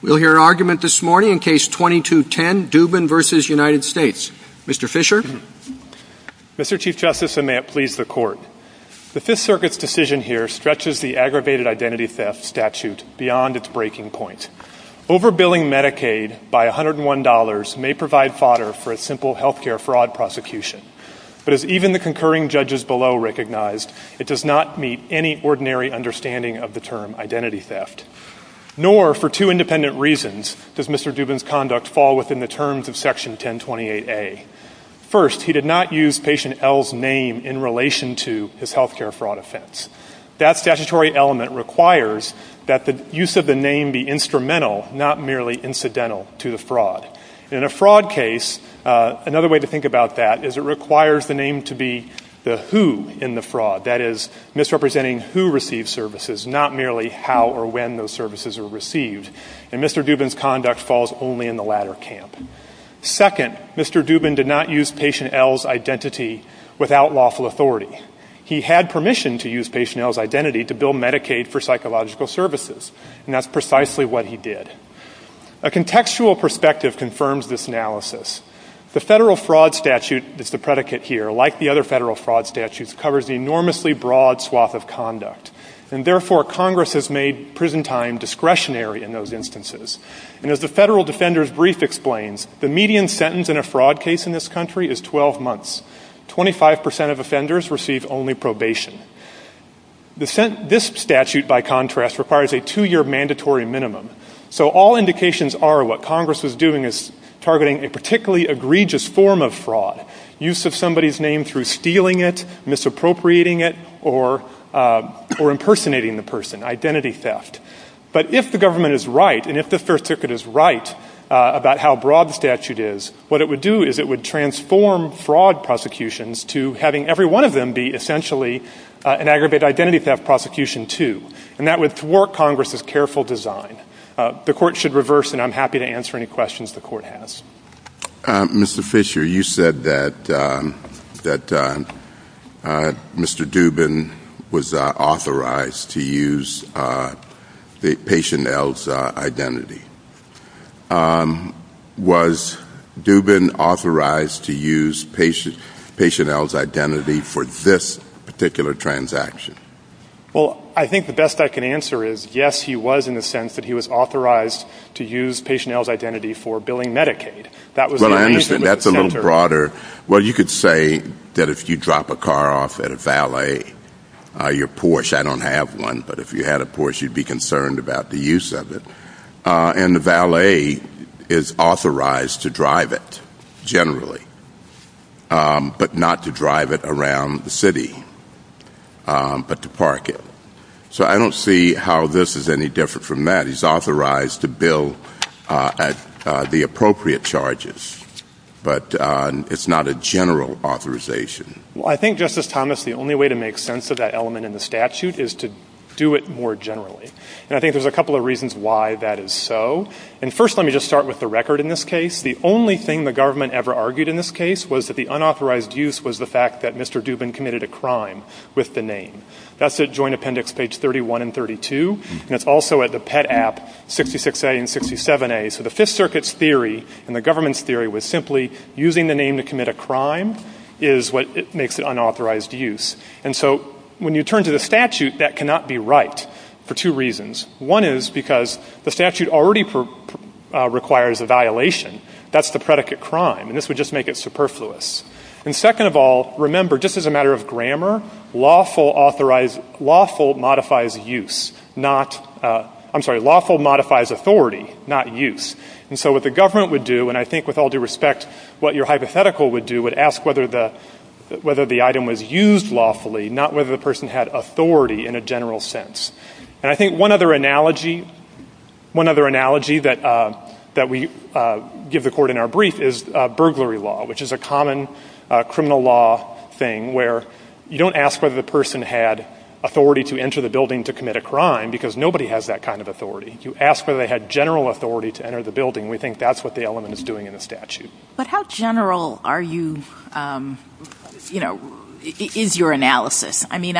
We'll hear an argument this morning in Case 2210, Dubin v. United States. Mr. Fisher? Mr. Chief Justice, and may it please the Court, the Fifth Circuit's decision here stretches the aggravated identity theft statute beyond its breaking point. Overbilling Medicaid by $101 may provide fodder for a simple health care fraud prosecution, but as even the concurring judges below recognized, it does not meet any ordinary understanding of the term identity theft. Nor, for two independent reasons, does Mr. Dubin's conduct fall within the terms of Section 1028A. First, he did not use Patient L's name in relation to his health care fraud offense. That statutory element requires that the use of the name be instrumental, not merely incidental, to the fraud. In a fraud case, another way to think about that is it requires the name to be the who in the fraud, that is, misrepresenting who receives services, not merely how or when those services are received. And Mr. Dubin's conduct falls only in the latter camp. Second, Mr. Dubin did not use Patient L's identity without lawful authority. He had permission to use Patient L's identity to bill Medicaid for psychological services, and that's precisely what he did. A contextual perspective confirms this analysis. The federal fraud statute is the predicate here, like the other federal fraud statutes, covers the enormously broad swath of conduct, and therefore Congress has made prison time discretionary in those instances. And as the Federal Defender's Brief explains, the median sentence in a fraud case in this country is 12 months. Twenty-five percent of offenders receive only probation. This statute, by contrast, requires a two-year mandatory minimum. So all indications are what Congress is doing is targeting a particularly egregious form of fraud, use of somebody's name through stealing it, misappropriating it, or impersonating the person, identity theft. But if the government is right, and if the First Circuit is right about how broad the statute is, what it would do is it would transform fraud prosecutions to having every one of them be essentially an aggravated identity theft prosecution, too. And that would thwart Congress's careful design. The Court should reverse, and I'm happy to answer any questions the Court has. Mr. Fisher, you said that Mr. Dubin was authorized to use Patient L's identity. Was Dubin authorized to use Patient L's identity for this particular transaction? Well, I think the best I can answer is yes, he was, in the sense that he was authorized to use Patient L's identity for billing Medicaid. Well, I understand. That's a little broader. Well, you could say that if you drop a car off at a valet, your Porsche. I don't have one, but if you had a Porsche, you'd be concerned about the use of it. And the valet is authorized to drive it, generally, but not to drive it around the city. But to park it. So I don't see how this is any different from that. He's authorized to bill the appropriate charges, but it's not a general authorization. Well, I think, Justice Thomas, the only way to make sense of that element in the statute is to do it more generally. And I think there's a couple of reasons why that is so. And first, let me just start with the record in this case. The only thing the government ever argued in this case was that the unauthorized use was the fact that Mr. Dubin committed a crime with the name. That's at Joint Appendix page 31 and 32. And it's also at the Pet App 66A and 67A. So the Fifth Circuit's theory and the government's theory was simply using the name to commit a crime is what makes it unauthorized use. And so when you turn to the statute, that cannot be right for two reasons. One is because the statute already requires a violation. That's the predicate crime. And this would just make it superfluous. And second of all, remember, just as a matter of grammar, lawful modifies authority, not use. And so what the government would do, and I think with all due respect what your hypothetical would do, would ask whether the item was used lawfully, not whether the person had authority in a general sense. And I think one other analogy that we give the Court in our brief is burglary law, which is a common criminal law thing where you don't ask whether the person had authority to enter the building to commit a crime, because nobody has that kind of authority. You ask whether they had general authority to enter the building. We think that's what the element is doing in the statute. But how general are you, you know, is your analysis? I mean,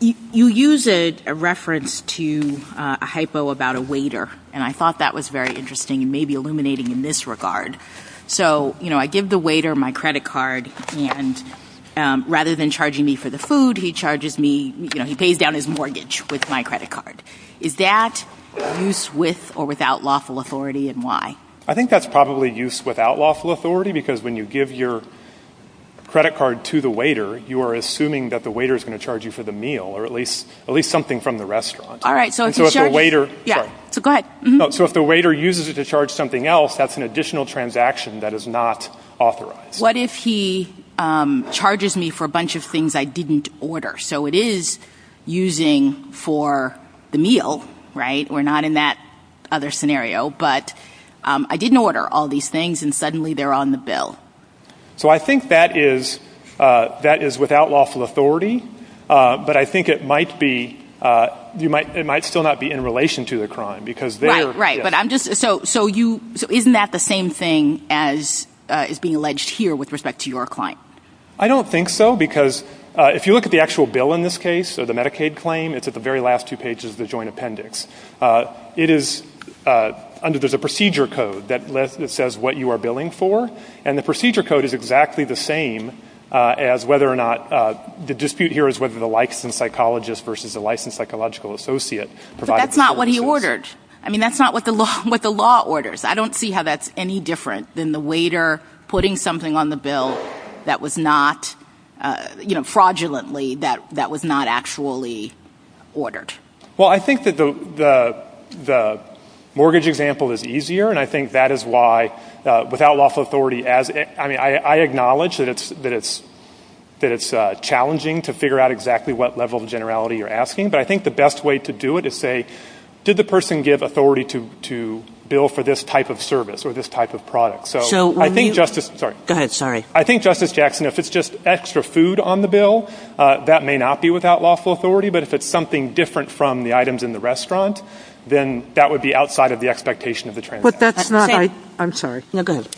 you use a reference to a hypo about a waiter, and I thought that was very interesting and maybe illuminating in this regard. So, you know, I give the waiter my credit card, and rather than charging me for the food, he charges me, you know, he pays down his mortgage with my credit card. Is that use with or without lawful authority, and why? I think that's probably use without lawful authority, because when you give your credit card to the waiter, you are assuming that the waiter is going to charge you for the meal or at least something from the restaurant. So if the waiter uses it to charge something else, that's an additional transaction that is not authorized. What if he charges me for a bunch of things I didn't order? So it is using for the meal, right? We're not in that other scenario. But I didn't order all these things, and suddenly they're on the bill. So I think that is without lawful authority, but I think it might still not be in relation to the crime. Right, right. So isn't that the same thing as is being alleged here with respect to your client? I don't think so, because if you look at the actual bill in this case, the Medicaid claim, it's at the very last two pages of the joint appendix. It is under the procedure code that says what you are billing for, and the procedure code is exactly the same as whether or not the dispute here is whether the licensed psychologist versus the licensed psychological associate provides the same information. But that's not what he ordered. I mean, that's not what the law orders. I don't see how that's any different than the waiter putting something on the bill that was not, you know, fraudulently that was not actually ordered. Well, I think that the mortgage example is easier, and I think that is why without lawful authority, I mean, I acknowledge that it's challenging to figure out exactly what level of generality you're asking, but I think the best way to do it is to say, did the person give authority to bill for this type of service or this type of product? So I think Justice — Go ahead, sorry. I think, Justice Jackson, if it's just extra food on the bill, that may not be without lawful authority, but if it's something different from the items in the restaurant, then that would be outside of the expectation of the transaction. But that's not — I'm sorry. No, go ahead.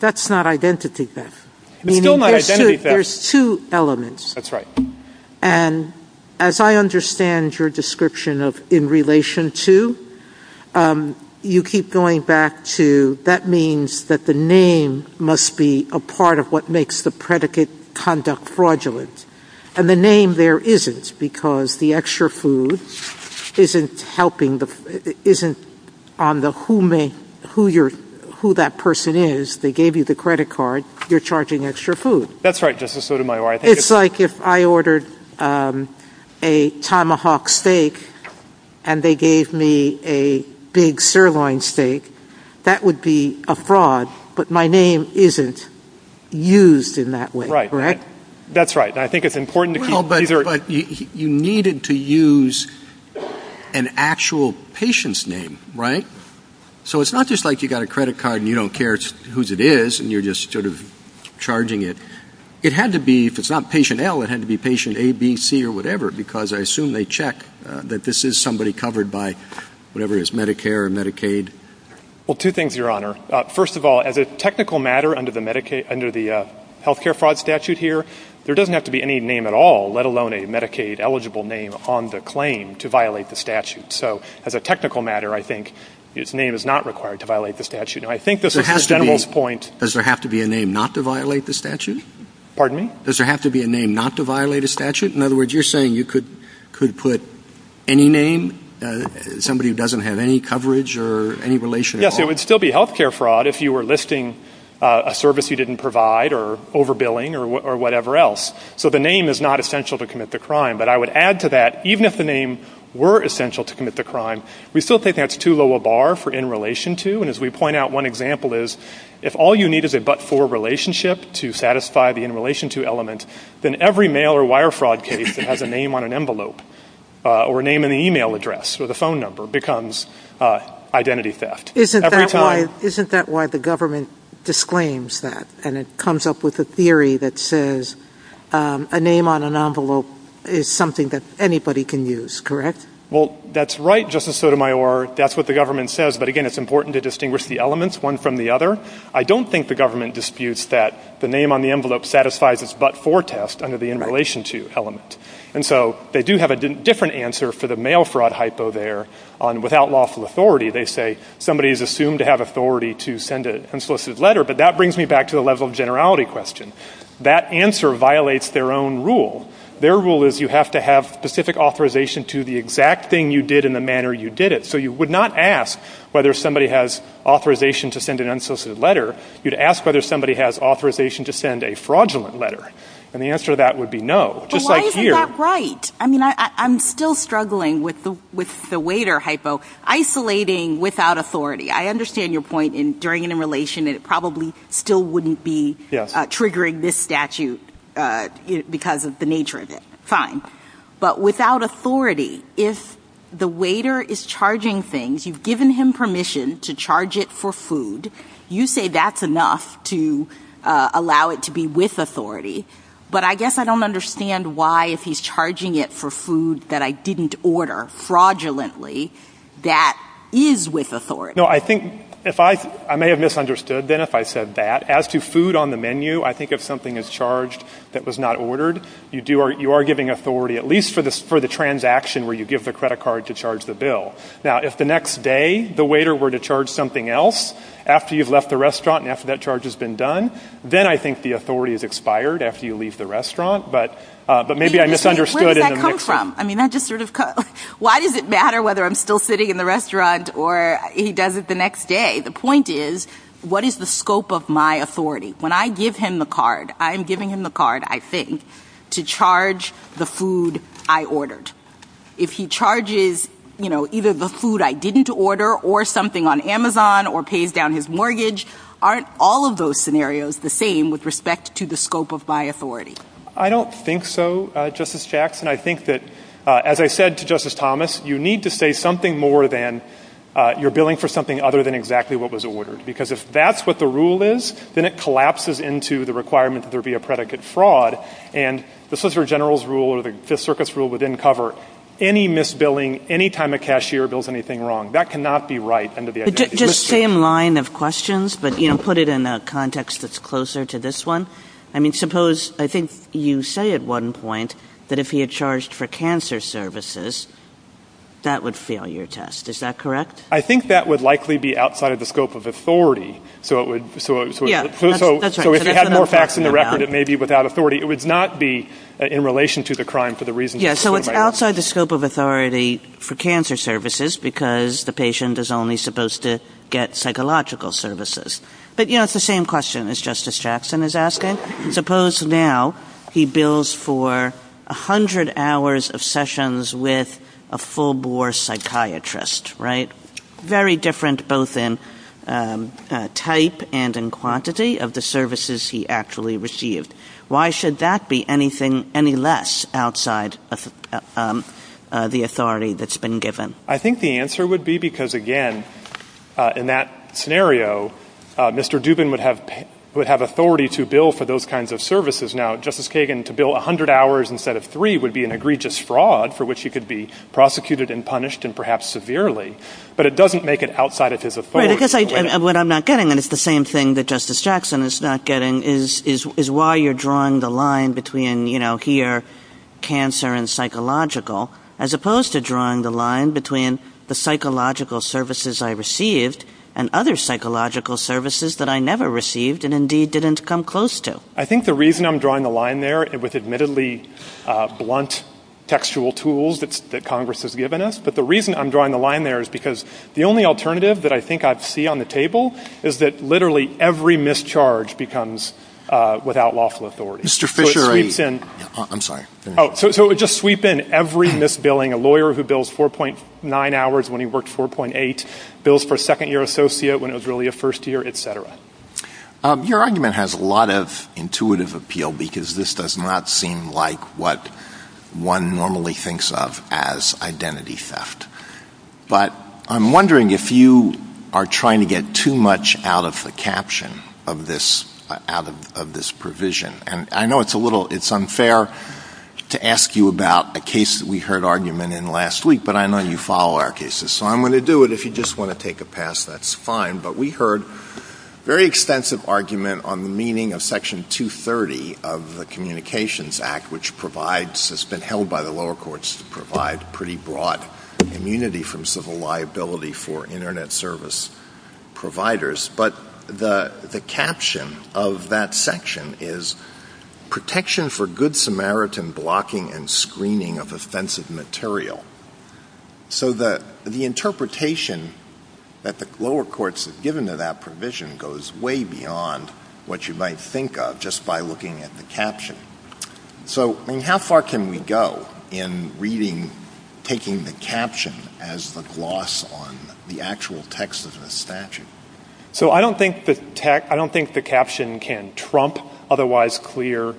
That's not identity theft. There's two elements. That's right. And as I understand your description of in relation to, you keep going back to, that means that the name must be a part of what makes the predicate conduct fraudulent. And the name there isn't because the extra food isn't helping the — isn't on the who that person is. They gave you the credit card. You're charging extra food. That's right, Justice Sotomayor. It's like if I ordered a tomahawk steak and they gave me a big sirloin steak. That would be a fraud, but my name isn't used in that way. Right. That's right. And I think it's important to keep — Well, but you needed to use an actual patient's name, right? So it's not just like you got a credit card and you don't care whose it is, and you're just sort of charging it. It had to be, if it's not patient L, it had to be patient A, B, C, or whatever, because I assume they check that this is somebody covered by whatever it is, Medicare or Medicaid. Well, two things, Your Honor. First of all, as a technical matter under the healthcare fraud statute here, there doesn't have to be any name at all, let alone a Medicaid-eligible name on the claim to violate the statute. So as a technical matter, I think his name is not required to violate the statute. I think this is the general point. Does there have to be a name not to violate the statute? Pardon me? Does there have to be a name not to violate a statute? In other words, you're saying you could put any name, somebody who doesn't have any coverage or any relation at all? Yes, it would still be healthcare fraud if you were listing a service you didn't provide or overbilling or whatever else. So the name is not essential to commit the crime. But I would add to that, even if the name were essential to commit the crime, we still think that's too low a bar for in relation to. And as we point out, one example is if all you need is a but-for relationship to satisfy the in relation to element, then every mail or wire fraud case that has a name on an envelope or a name in an e-mail address or the phone number becomes identity theft. Isn't that why the government disclaims that and it comes up with a theory that says a name on an envelope is something that anybody can use, correct? Well, that's right, Justice Sotomayor. That's what the government says. But, again, it's important to distinguish the elements, one from the other. I don't think the government disputes that the name on the envelope satisfies its but-for test under the in relation to element. And so they do have a different answer for the mail fraud hypo there on without lawful authority. They say somebody is assumed to have authority to send an unsolicited letter, but that brings me back to a level of generality question. That answer violates their own rule. Their rule is you have to have specific authorization to the exact thing you did and the manner you did it. So you would not ask whether somebody has authorization to send an unsolicited letter. You'd ask whether somebody has authorization to send a fraudulent letter. And the answer to that would be no, just like here. But why is that right? I mean, I'm still struggling with the waiter hypo, isolating without authority. I understand your point in during an in relation and it probably still wouldn't be triggering this statute because of the nature of it. Fine. But without authority, if the waiter is charging things, you've given him permission to charge it for food. You say that's enough to allow it to be with authority. But I guess I don't understand why if he's charging it for food that I didn't order fraudulently, that is with authority. No, I think if I may have misunderstood then if I said that. As to food on the menu, I think if something is charged that was not ordered, you are giving authority, at least for the transaction where you give the credit card to charge the bill. Now, if the next day the waiter were to charge something else, after you've left the restaurant and after that charge has been done, then I think the authority is expired after you leave the restaurant. But maybe I misunderstood. Where did that come from? I mean, I just sort of – why does it matter whether I'm still sitting in the restaurant or he does it the next day? The point is, what is the scope of my authority? When I give him the card, I'm giving him the card, I think, to charge the food I ordered. If he charges, you know, either the food I didn't order or something on Amazon or pays down his mortgage, aren't all of those scenarios the same with respect to the scope of my authority? I don't think so, Justice Jackson. I think that, as I said to Justice Thomas, you need to say something more than you're billing for something other than exactly what was ordered. Because if that's what the rule is, then it collapses into the requirement that there be a predicate fraud. And this is the general's rule or the circuit's rule within COVR, any misbilling, any time a cashier bills anything wrong, that cannot be right under the idea of misbilling. Just the same line of questions, but, you know, put it in a context that's closer to this one. I mean, suppose, I think you say at one point that if he had charged for cancer services, that would fail your test. Is that correct? I think that would likely be outside of the scope of authority. So if it had more facts in the record, it may be without authority. It would not be in relation to the crime for the reasons you just put in my hand. Yes, so it's outside the scope of authority for cancer services because the patient is only supposed to get psychological services. But, you know, it's the same question as Justice Jackson is asking. Suppose now he bills for 100 hours of sessions with a full-bore psychiatrist, right? Very different both in type and in quantity of the services he actually received. Why should that be anything any less outside of the authority that's been given? I think the answer would be because, again, in that scenario, Mr. Dubin would have authority to bill for those kinds of services. Now, Justice Kagan, to bill 100 hours instead of three would be an egregious fraud for which he could be prosecuted and punished and perhaps severely. But it doesn't make it outside of his authority. What I'm not getting, and it's the same thing that Justice Jackson is not getting, is why you're drawing the line between, you know, here, cancer and psychological, as opposed to drawing the line between the psychological services I received and other psychological services that I never received and indeed didn't come close to. I think the reason I'm drawing the line there with admittedly blunt textual tools that Congress has given us, but the reason I'm drawing the line there is because the only alternative that I think I'd see on the table is that literally every mischarge becomes without lawful authority. Mr. Fisher, I'm sorry. Oh, so it would just sweep in every misbilling, a lawyer who bills 4.9 hours when he worked 4.8, bills for a second-year associate when it was really a first-year, et cetera. Your argument has a lot of intuitive appeal because this does not seem like what one normally thinks of as identity theft. But I'm wondering if you are trying to get too much out of the caption of this provision. And I know it's unfair to ask you about a case that we heard argument in last week, but I know you follow our cases, so I'm going to do it. If you just want to take a pass, that's fine. But we heard a very extensive argument on the meaning of Section 230 of the Communications Act, which has been held by the lower courts to provide pretty broad immunity from civil liability for Internet service providers. But the caption of that section is, Protection for Good Samaritan Blocking and Screening of Offensive Material. So the interpretation that the lower courts have given to that provision goes way beyond what you might think of just by looking at the caption. So, I mean, how far can we go in reading, taking the caption as the gloss on the actual text of the statute? So I don't think the caption can trump otherwise clear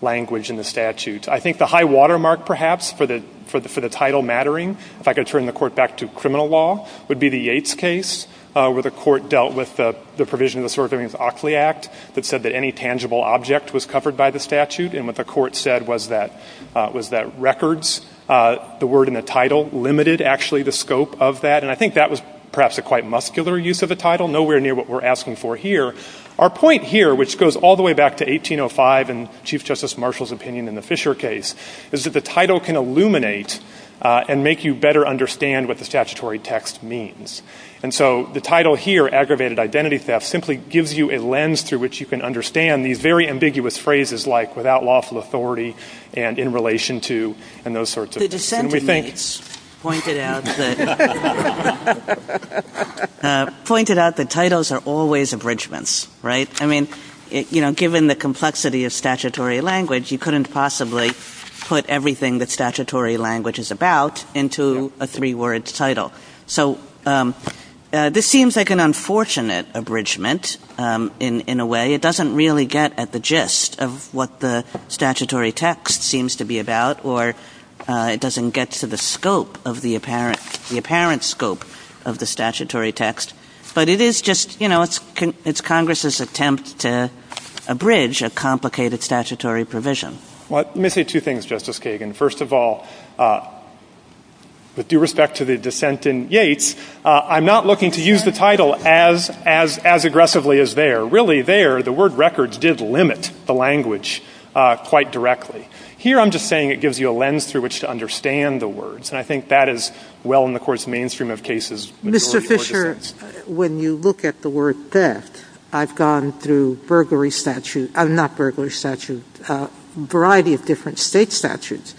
language in the statute. I think the high watermark, perhaps, for the title mattering, if I could turn the court back to criminal law, would be the Yates case where the court dealt with the provision of the Sovereign Rights Act that said that any tangible object was covered by the statute. And what the court said was that records, the word in the title, limited, actually, the scope of that. And I think that was perhaps a quite muscular use of the title, nowhere near what we're asking for here. Our point here, which goes all the way back to 1805 and Chief Justice Marshall's opinion in the Fisher case, is that the title can illuminate and make you better understand what the statutory text means. And so the title here, Aggravated Identity Theft, simply gives you a lens through which you can understand these very ambiguous phrases like without loss of authority and in relation to and those sorts of things. The dissenters pointed out that titles are always abridgments, right? I mean, given the complexity of statutory language, you couldn't possibly put everything that statutory language is about into a three-word title. So this seems like an unfortunate abridgment in a way. It doesn't really get at the gist of what the statutory text seems to be about, or it doesn't get to the scope of the apparent scope of the statutory text. But it is just, you know, it's Congress's attempt to abridge a complicated statutory provision. Well, let me say two things, Justice Kagan. First of all, with due respect to the dissent in Yates, I'm not looking to use the title as aggressively as there. Really, there, the word records did limit the language quite directly. Here I'm just saying it gives you a lens through which to understand the words, and I think that is well in the mainstream of cases. Mr. Fisher, when you look at the word theft, I've gone through variety of different state statutes,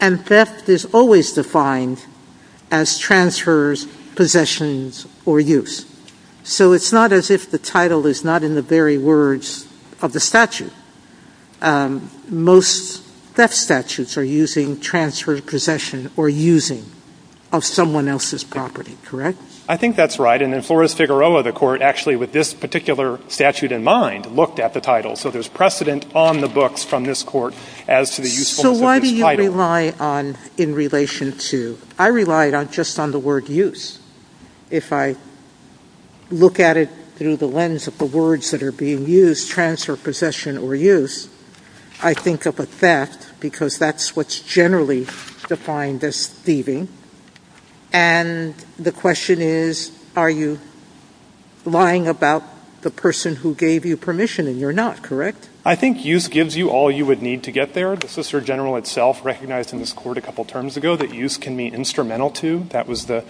and theft is always defined as transfers, possessions, or use. So it's not as if the title is not in the very words of the statute. Most theft statutes are using transfer, possession, or using of someone else's property. Correct? I think that's right, and then Flores-Figueroa, the court, actually with this particular statute in mind, looked at the title. So there's precedent on the books from this court as to the usefulness of this title. So why do you rely on in relation to? I rely just on the word use. If I look at it through the lens of the words that are being used, transfer, possession, or use, I think of a theft because that's what's generally defined as thieving, and the question is are you lying about the person who gave you permission, and you're not, correct? I think use gives you all you would need to get there. The Solicitor General itself recognized in this court a couple terms ago that use can mean instrumental to. That was the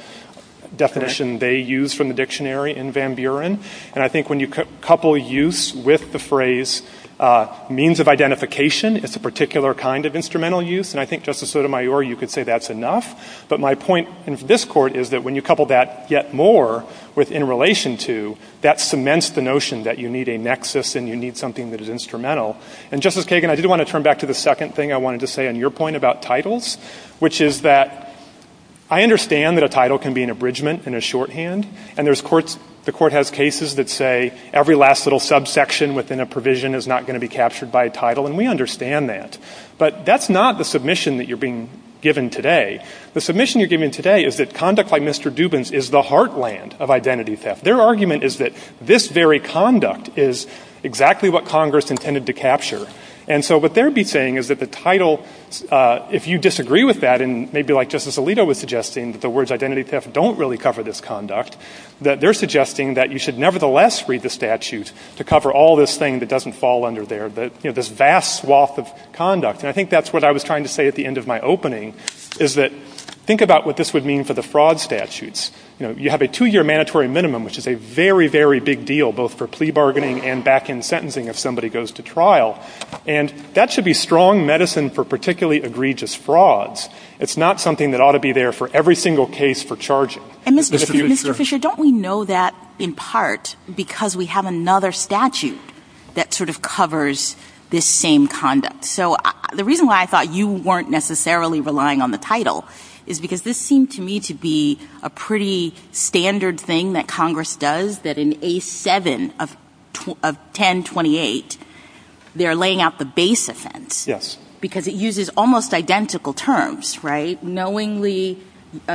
definition they used from the dictionary in Van Buren, and I think when you couple use with the phrase means of identification, it's a particular kind of instrumental use, and I think, Justice Sotomayor, you could say that's enough. But my point in this court is that when you couple that yet more with in relation to, that cements the notion that you need a nexus and you need something that is instrumental. And, Justice Kagan, I did want to turn back to the second thing I wanted to say on your point about titles, which is that I understand that a title can be an abridgment and a shorthand, and the court has cases that say every last little subsection within a provision is not going to be captured by a title, and we understand that, but that's not the submission that you're being given today. The submission you're giving today is that conduct like Mr. Dubin's is the heartland of identity theft. Their argument is that this very conduct is exactly what Congress intended to capture. And so what they would be saying is that the title, if you disagree with that, and maybe like Justice Alito was suggesting that the words identity theft don't really cover this conduct, that they're suggesting that you should nevertheless read the statute to cover all this thing that doesn't fall under there, this vast swath of conduct. And I think that's what I was trying to say at the end of my opening, is that think about what this would mean for the fraud statutes. You have a two-year mandatory minimum, which is a very, very big deal, both for plea bargaining and back-end sentencing if somebody goes to trial, and that should be strong medicine for particularly egregious frauds. It's not something that ought to be there for every single case for charging. And Mr. Fisher, don't we know that in part because we have another statute that sort of covers this same conduct? So the reason why I thought you weren't necessarily relying on the title is because this seemed to me to be a pretty standard thing that Congress does, that in A7 of 1028, they're laying out the base offense. Yes. Because it uses almost identical terms, right, knowingly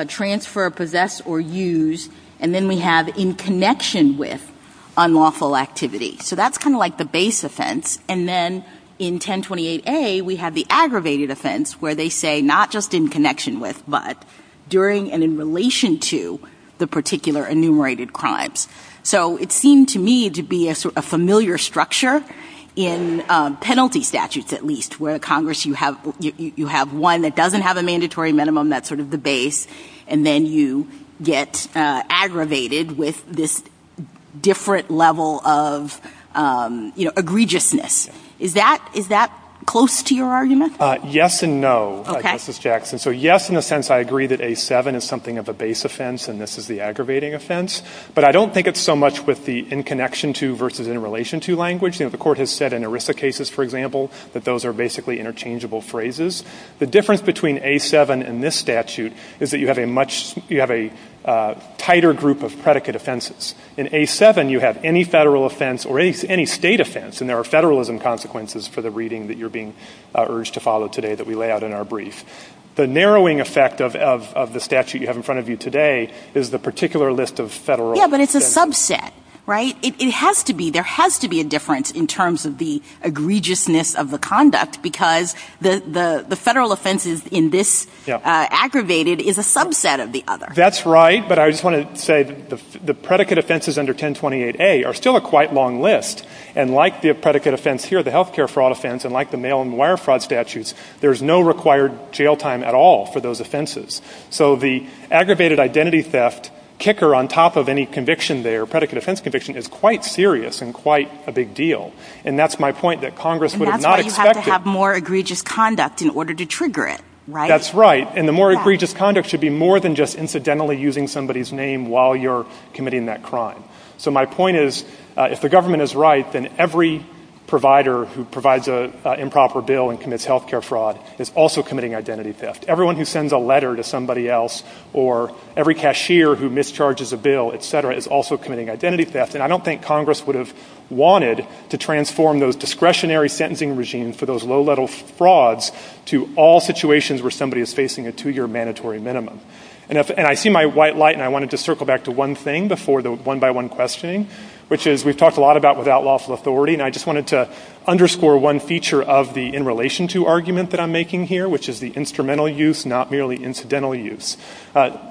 transfer, possess, or use, and then we have in connection with unlawful activity. So that's kind of like the base offense. And then in 1028A, we have the aggravated offense, where they say not just in connection with, but during and in relation to the particular enumerated crimes. So it seemed to me to be a familiar structure in penalty statutes, at least, where Congress, you have one that doesn't have a mandatory minimum, that's sort of the base, and then you get aggravated with this different level of egregiousness. Is that close to your argument? Yes and no, Justice Jackson. So yes, in a sense, I agree that A7 is something of a base offense and this is the aggravating offense, but I don't think it's so much with the in connection to versus in relation to language. The court has said in ERISA cases, for example, that those are basically interchangeable phrases. The difference between A7 and this statute is that you have a much, you have a tighter group of predicate offenses. In A7, you have any federal offense or any state offense, and there are federalism consequences for the reading that you're being urged to follow today that we lay out in our brief. The narrowing effect of the statute you have in front of you today is the particular list of federal offenses. Yeah, but it's a subset, right? It has to be, there has to be a difference in terms of the egregiousness of the conduct because the federal offenses in this aggravated is a subset of the other. That's right, but I just want to say the predicate offenses under 1028A are still a quite long list, and like the predicate offense here, the health care fraud offense, and like the mail and wire fraud statutes, there's no required jail time at all for those offenses. So the aggravated identity theft kicker on top of any conviction there, predicate offense conviction, is quite serious and quite a big deal, and that's my point that Congress would have not expected. And that's why you have to have more egregious conduct in order to trigger it, right? That's right, and the more egregious conduct should be more than just incidentally using somebody's name while you're committing that crime. So my point is if the government is right, then every provider who provides an improper bill and commits health care fraud is also committing identity theft. Everyone who sends a letter to somebody else or every cashier who mischarges a bill, et cetera, is also committing identity theft, and I don't think Congress would have wanted to transform those discretionary sentencing regimes for those low-level frauds to all situations where somebody is facing a two-year mandatory minimum. And I see my white light, and I wanted to circle back to one thing before the one-by-one questioning, which is we've talked a lot about without lawful authority, and I just wanted to underscore one feature of the in-relation-to argument that I'm making here, which is the instrumental use, not merely incidental use.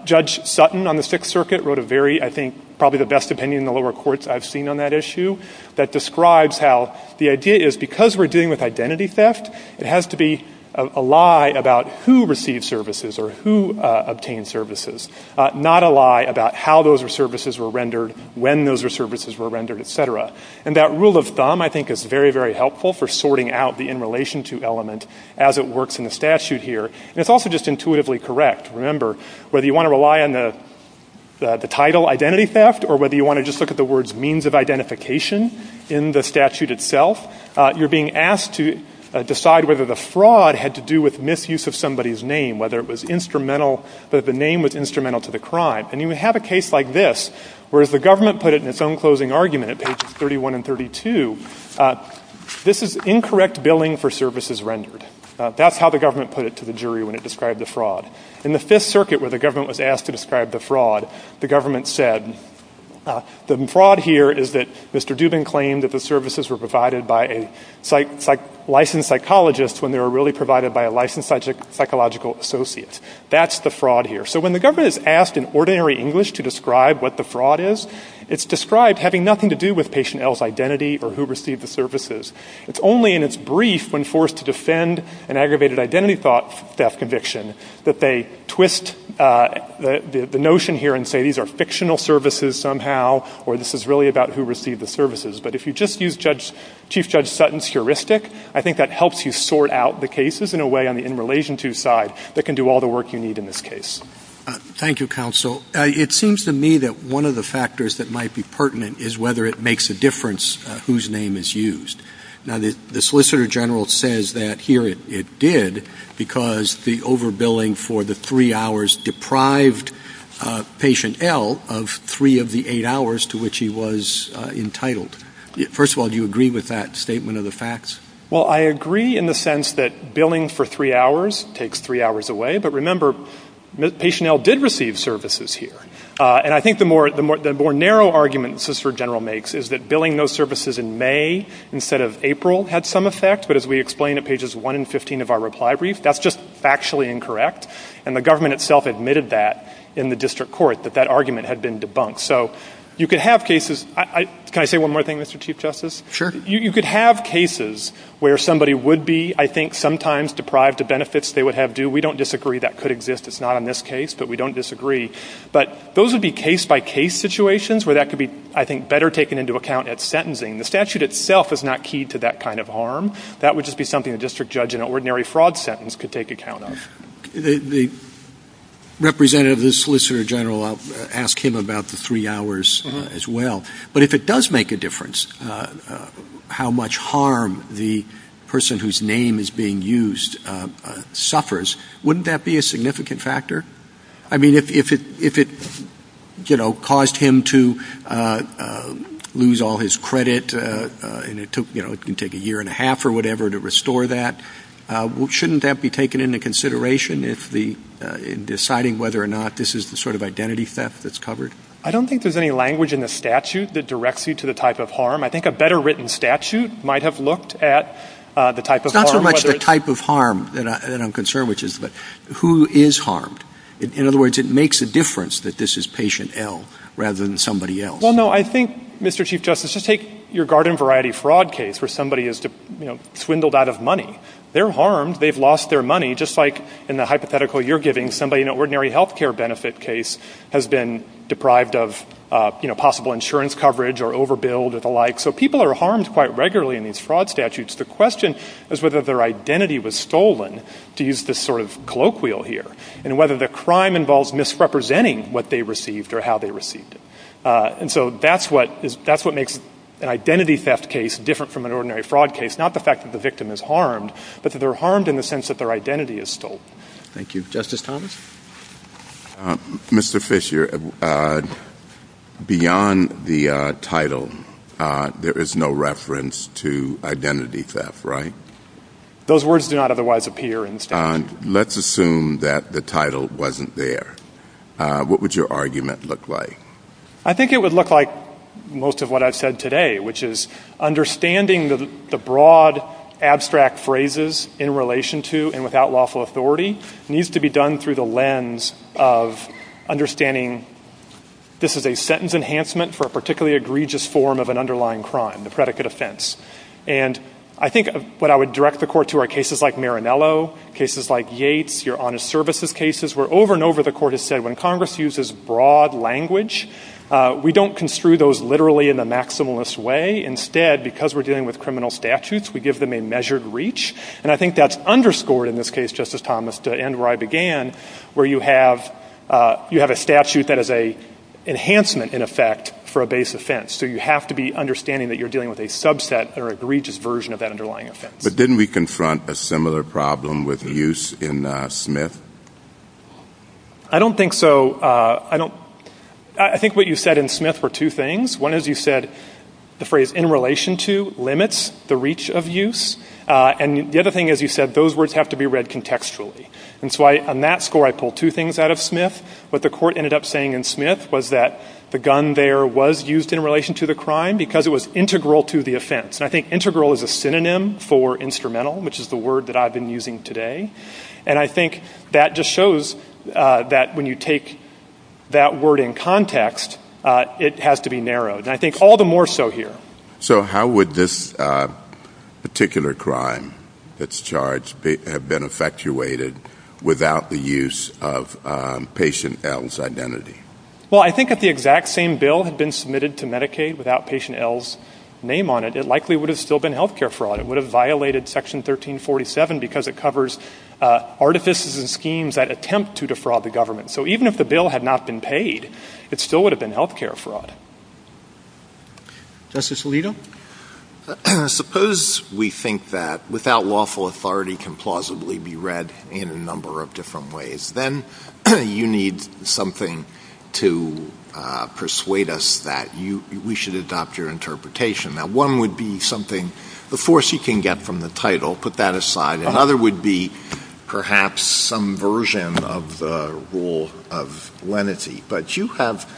Judge Sutton on the Sixth Circuit wrote a very, I think, probably the best opinion in the lower courts I've seen on that issue that describes how the idea is because we're dealing with identity theft, it has to be a lie about who received services or who obtained services, not a lie about how those services were rendered, when those services were rendered, et cetera. And that rule of thumb, I think, is very, very helpful for sorting out the in-relation-to element as it works in the statute here. And it's also just intuitively correct. Remember, whether you want to rely on the title identity theft or whether you want to just look at the words means of identification in the statute itself, you're being asked to decide whether the fraud had to do with misuse of somebody's name, whether the name was instrumental to the crime. And you have a case like this, where the government put it in its own closing argument at pages 31 and 32, this is incorrect billing for services rendered. That's how the government put it to the jury when it described the fraud. In the Fifth Circuit, where the government was asked to describe the fraud, the government said the fraud here is that Mr. Dubin claimed that the services were provided by a licensed psychologist when they were really provided by a licensed psychological associate. That's the fraud here. So when the government is asked in ordinary English to describe what the fraud is, it's described having nothing to do with patient L's identity or who received the services. It's only in its brief when forced to defend an aggravated identity theft conviction that they twist the notion here and say these are fictional services somehow or this is really about who received the services. But if you just use Chief Judge Sutton's heuristic, I think that helps you sort out the cases in a way on the in relation to side that can do all the work you need in this case. Thank you, counsel. It seems to me that one of the factors that might be pertinent is whether it makes a difference whose name is used. Now, the Solicitor General says that here it did because the overbilling for the three hours deprived patient L of three of the eight hours to which he was entitled. First of all, do you agree with that statement of the facts? Well, I agree in the sense that billing for three hours takes three hours away. But remember, patient L did receive services here. And I think the more narrow argument the Solicitor General makes is that billing those services in May instead of April had some effect. But as we explained at pages 1 and 15 of our reply brief, that's just factually incorrect. And the government itself admitted that in the district court, that that argument had been debunked. So you could have cases – can I say one more thing, Mr. Chief Justice? You could have cases where somebody would be, I think, sometimes deprived of benefits they would have due. We don't disagree that could exist. It's not in this case, but we don't disagree. But those would be case-by-case situations where that could be, I think, better taken into account at sentencing. The statute itself is not key to that kind of harm. That would just be something a district judge in an ordinary fraud sentence could take account of. The representative of the Solicitor General, I'll ask him about the three hours as well. But if it does make a difference how much harm the person whose name is being used suffers, wouldn't that be a significant factor? I mean, if it caused him to lose all his credit and it can take a year and a half or whatever to restore that, shouldn't that be taken into consideration in deciding whether or not this is the sort of identity theft that's covered? I don't think there's any language in the statute that directs you to the type of harm. I think a better written statute might have looked at the type of harm. It's not so much the type of harm that I'm concerned with, but who is harmed. In other words, it makes a difference that this is patient L rather than somebody else. Well, no, I think, Mr. Chief Justice, just take your garden variety fraud case where somebody is swindled out of money. They're harmed. They've lost their money, just like in the hypothetical you're giving, somebody in an ordinary health care benefit case has been deprived of possible insurance coverage or overbilled or the like. So people are harmed quite regularly in these fraud statutes. The question is whether their identity was stolen, to use this sort of colloquial here, and whether the crime involves misrepresenting what they received or how they received it. And so that's what makes an identity theft case different from an ordinary fraud case, not the fact that the victim is harmed, but that they're harmed in the sense that their identity is stolen. Thank you. Justice Thomas? Mr. Fisher, beyond the title, there is no reference to identity theft, right? Those words do not otherwise appear in the statute. Let's assume that the title wasn't there. What would your argument look like? I think it would look like most of what I've said today, which is understanding the broad abstract phrases in relation to and without lawful authority needs to be done through the lens of understanding this is a sentence enhancement for a particularly egregious form of an underlying crime, the predicate offense. And I think what I would direct the Court to are cases like Marinello, cases like Yates, your honest services cases, where over and over the Court has said when Congress uses broad language, we don't construe those literally in the maximalist way. Instead, because we're dealing with criminal statutes, we give them a measured reach. And I think that's underscored in this case, Justice Thomas, to end where I began, where you have a statute that is an enhancement, in effect, for a base offense. So you have to be understanding that you're dealing with a subset or an egregious version of that underlying offense. But didn't we confront a similar problem with use in Smith? I don't think so. I think what you said in Smith were two things. One is you said the phrase in relation to limits the reach of use. And the other thing is you said those words have to be read contextually. And so on that score, I pulled two things out of Smith. What the Court ended up saying in Smith was that the gun there was used in relation to the crime because it was integral to the offense. And I think integral is a synonym for instrumental, which is the word that I've been using today. And I think that just shows that when you take that word in context, it has to be narrowed. And I think all the more so here. So how would this particular crime that's charged have been effectuated without the use of Patient L's identity? Well, I think if the exact same bill had been submitted to Medicaid without Patient L's name on it, it likely would have still been health care fraud. It would have violated Section 1347 because it covers artifices and schemes that attempt to defraud the government. So even if the bill had not been paid, it still would have been health care fraud. Justice Alito? Suppose we think that without lawful authority can plausibly be read in a number of different ways. Then you need something to persuade us that we should adopt your interpretation. Now, one would be something, the force you can get from the title, put that aside. Another would be perhaps some version of the rule of lenity. But you have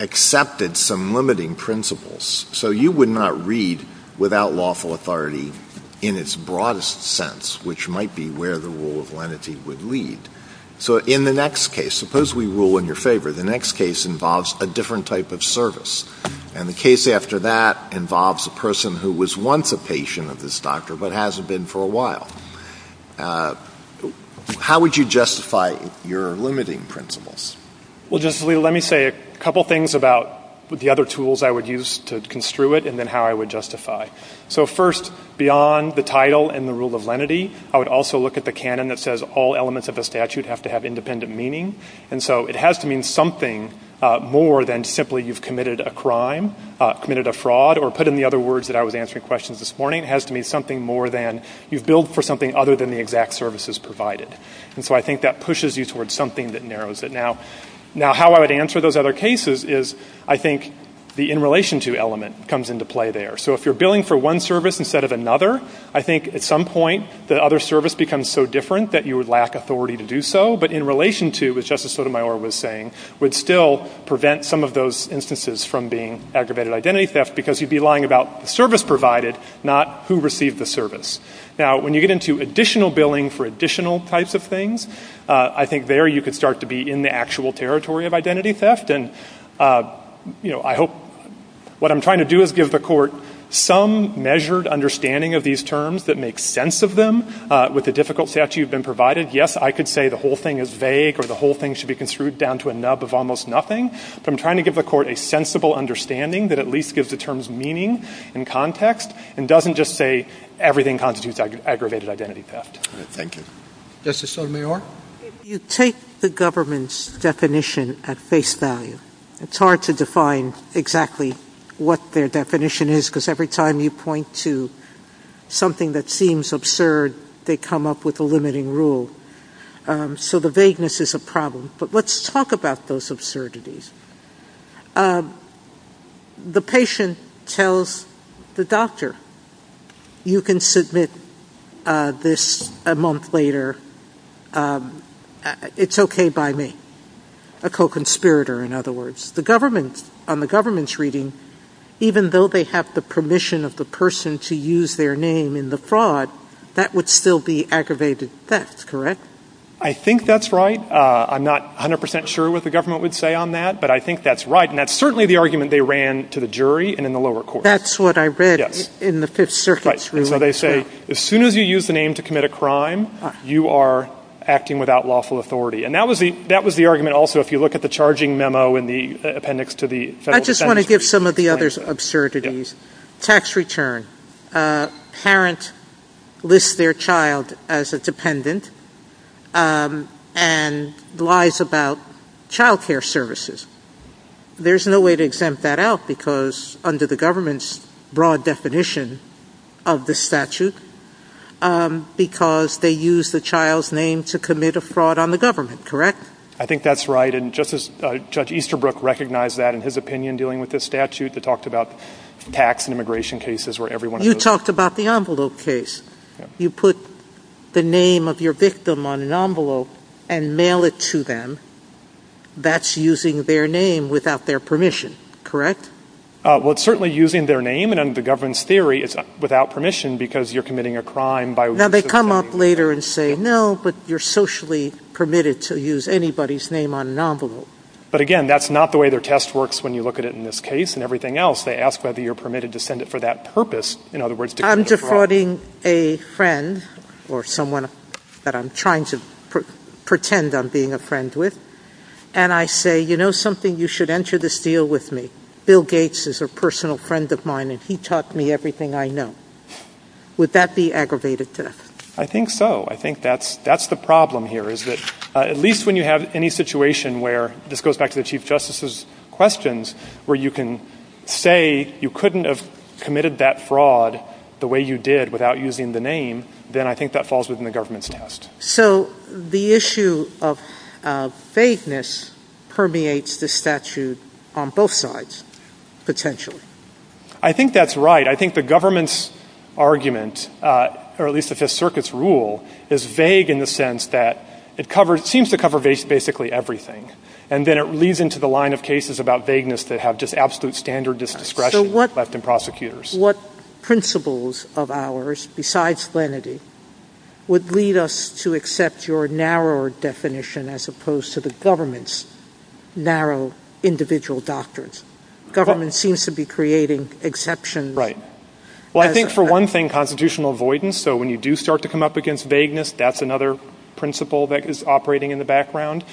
accepted some limiting principles. So you would not read without lawful authority in its broadest sense, which might be where the rule of lenity would lead. So in the next case, suppose we rule in your favor. The next case involves a different type of service. And the case after that involves a person who was once a patient of this doctor but hasn't been for a while. How would you justify your limiting principles? Well, Justice Alito, let me say a couple things about the other tools I would use to construe it and then how I would justify. So first, beyond the title and the rule of lenity, I would also look at the canon that says all elements of the statute have to have independent meaning. And so it has to mean something more than simply you've committed a crime, committed a fraud, or put in the other words that I was answering questions this morning, it has to mean something more than you've billed for something other than the exact services provided. And so I think that pushes you towards something that narrows it. Now, how I would answer those other cases is I think the in relation to element comes into play there. So if you're billing for one service instead of another, I think at some point the other service becomes so different that you would lack authority to do so. But in relation to, as Justice Sotomayor was saying, would still prevent some of those instances from being aggravated identity theft because you'd be lying about service provided, not who received the service. Now, when you get into additional billing for additional types of things, I think there you could start to be in the actual territory of identity theft. And, you know, I hope what I'm trying to do is give the court some measured understanding of these terms that makes sense of them. With the difficult statute that's been provided, yes, I could say the whole thing is vague or the whole thing should be construed down to a nub of almost nothing. But I'm trying to give the court a sensible understanding that at least gives the terms meaning and context and doesn't just say everything constitutes aggravated identity theft. Thank you. Justice Sotomayor? If you take the government's definition at face value, it's hard to define exactly what their definition is because every time you point to something that seems absurd, they come up with a limiting rule. So the vagueness is a problem. But let's talk about those absurdities. The patient tells the doctor, you can submit this a month later. It's okay by me. A co-conspirator, in other words. On the government's reading, even though they have the permission of the person to use their name in the fraud, that would still be aggravated theft, correct? I think that's right. I'm not 100% sure what the government would say on that, but I think that's right. And that's certainly the argument they ran to the jury and in the lower court. That's what I read in the Fifth Circuit. So they say, as soon as you use the name to commit a crime, you are acting without lawful authority. And that was the argument also if you look at the charging memo in the appendix to the federal statute. I just want to give some of the other absurdities. Tax return. A parent lists their child as a dependent and lies about child care services. There's no way to exempt that out because under the government's broad definition of the statute, because they use the child's name to commit a fraud on the government, correct? I think that's right. And just as Judge Easterbrook recognized that in his opinion dealing with the statute that talked about tax and immigration cases. You talked about the envelope case. You put the name of your victim on an envelope and mail it to them. That's using their name without their permission, correct? Well, it's certainly using their name. And under the government's theory, it's without permission because you're committing a crime. Now, they come up later and say, no, but you're socially permitted to use anybody's name on an envelope. But, again, that's not the way their test works when you look at it in this case and everything else. They ask whether you're permitted to send it for that purpose. I'm defrauding a friend or someone that I'm trying to pretend I'm being a friend with, and I say, you know something, you should enter this deal with me. Bill Gates is a personal friend of mine, and he taught me everything I know. Would that be aggravated theft? I think so. I think that's the problem here is that at least when you have any situation where, this goes back to the Chief Justice's questions, where you can say you couldn't have committed that fraud the way you did without using the name, then I think that falls within the government's test. So the issue of vagueness permeates the statute on both sides, potentially. I think that's right. I think the government's argument, or at least the Fifth Circuit's rule, is vague in the sense that it seems to cover basically everything, and then it leads into the line of cases about vagueness that have just absolute standard disdiscretion left in prosecutors. What principles of ours, besides lenity, would lead us to accept your narrower definition as opposed to the government's narrow individual doctrines? Government seems to be creating exceptions. Right. Well, I think, for one thing, constitutional avoidance. So when you do start to come up against vagueness, that's another principle that is operating in the background.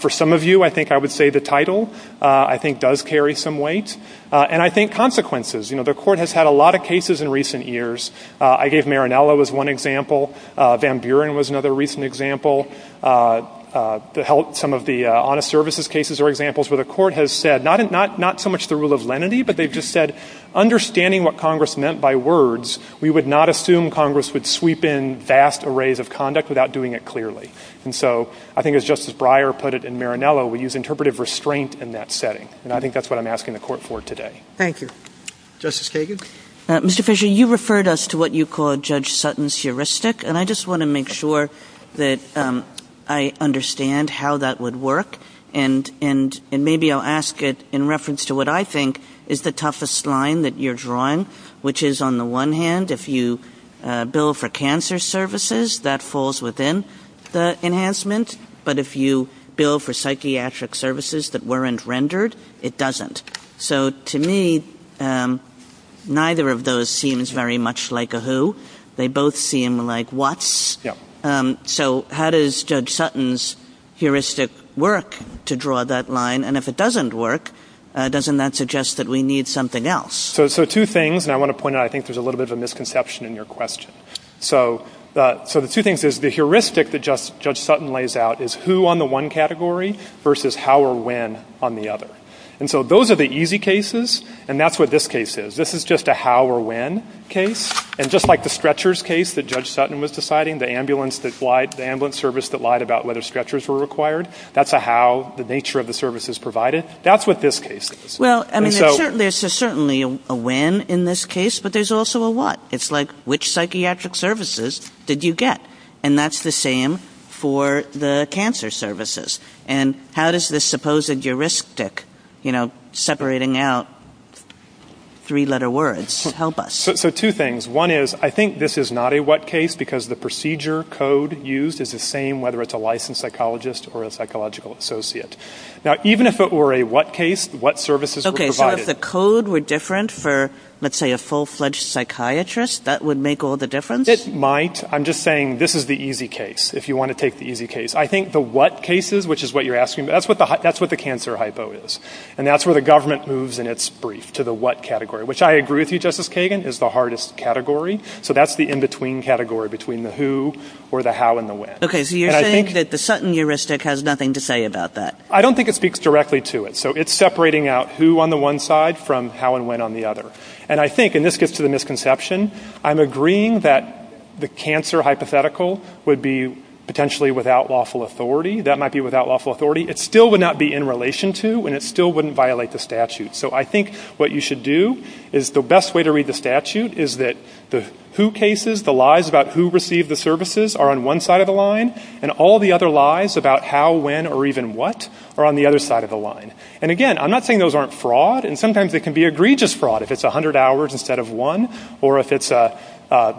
For some of you, I think I would say the title I think does carry some weight. And I think consequences. You know, the Court has had a lot of cases in recent years. I gave Marinello as one example. Van Buren was another recent example. Some of the honest services cases are examples where the Court has said not so much the rule of lenity, but they've just said understanding what Congress meant by words, we would not assume Congress would sweep in vast arrays of conduct without doing it clearly. And so I think, as Justice Breyer put it in Marinello, we use interpretive restraint in that setting. And I think that's what I'm asking the Court for today. Thank you. Justice Kagan? Mr. Fisher, you referred us to what you call Judge Sutton's heuristic, and I just want to make sure that I understand how that would work. And maybe I'll ask it in reference to what I think is the toughest line that you're drawing, which is on the one hand, if you bill for cancer services, that falls within the enhancement. But if you bill for psychiatric services that weren't rendered, it doesn't. So to me, neither of those seems very much like a who. They both seem like what's. So how does Judge Sutton's heuristic work to draw that line? And if it doesn't work, doesn't that suggest that we need something else? So two things, and I want to point out I think there's a little bit of a misconception in your question. So the two things is the heuristic that Judge Sutton lays out is who on the one category versus how or when on the other. And so those are the easy cases, and that's what this case is. This is just a how or when case. And just like the stretchers case that Judge Sutton was deciding, the ambulance service that lied about whether stretchers were required, that's a how, the nature of the services provided. That's what this case is. Well, I mean, there's certainly a when in this case, but there's also a what. It's like, which psychiatric services did you get? And that's the same for the cancer services. And how does this supposed heuristic, you know, separating out three-letter words help us? So two things. One is I think this is not a what case because the procedure code used is the same, whether it's a licensed psychologist or a psychological associate. Now, even if it were a what case, what services were provided? Okay, so if the code were different for, let's say, a full-fledged psychiatrist, that would make all the difference? It might. I'm just saying this is the easy case, if you want to take the easy case. I think the what cases, which is what you're asking, that's what the cancer hypo is, and that's where the government moves in its brief to the what category, which I agree with you, Justice Kagan, is the hardest category. So that's the in-between category between the who or the how and the when. Okay, so you're saying that the Sutton heuristic has nothing to say about that? I don't think it speaks directly to it. So it's separating out who on the one side from how and when on the other. And I think, and this gets to the misconception, I'm agreeing that the cancer hypothetical would be potentially without lawful authority. That might be without lawful authority. It still would not be in relation to, and it still wouldn't violate the statute. So I think what you should do is the best way to read the statute is that the who cases, the lies about who received the services are on one side of the line, and all the other lies about how, when, or even what are on the other side of the line. And, again, I'm not saying those aren't fraud. And sometimes they can be egregious fraud, if it's 100 hours instead of one, or if it's the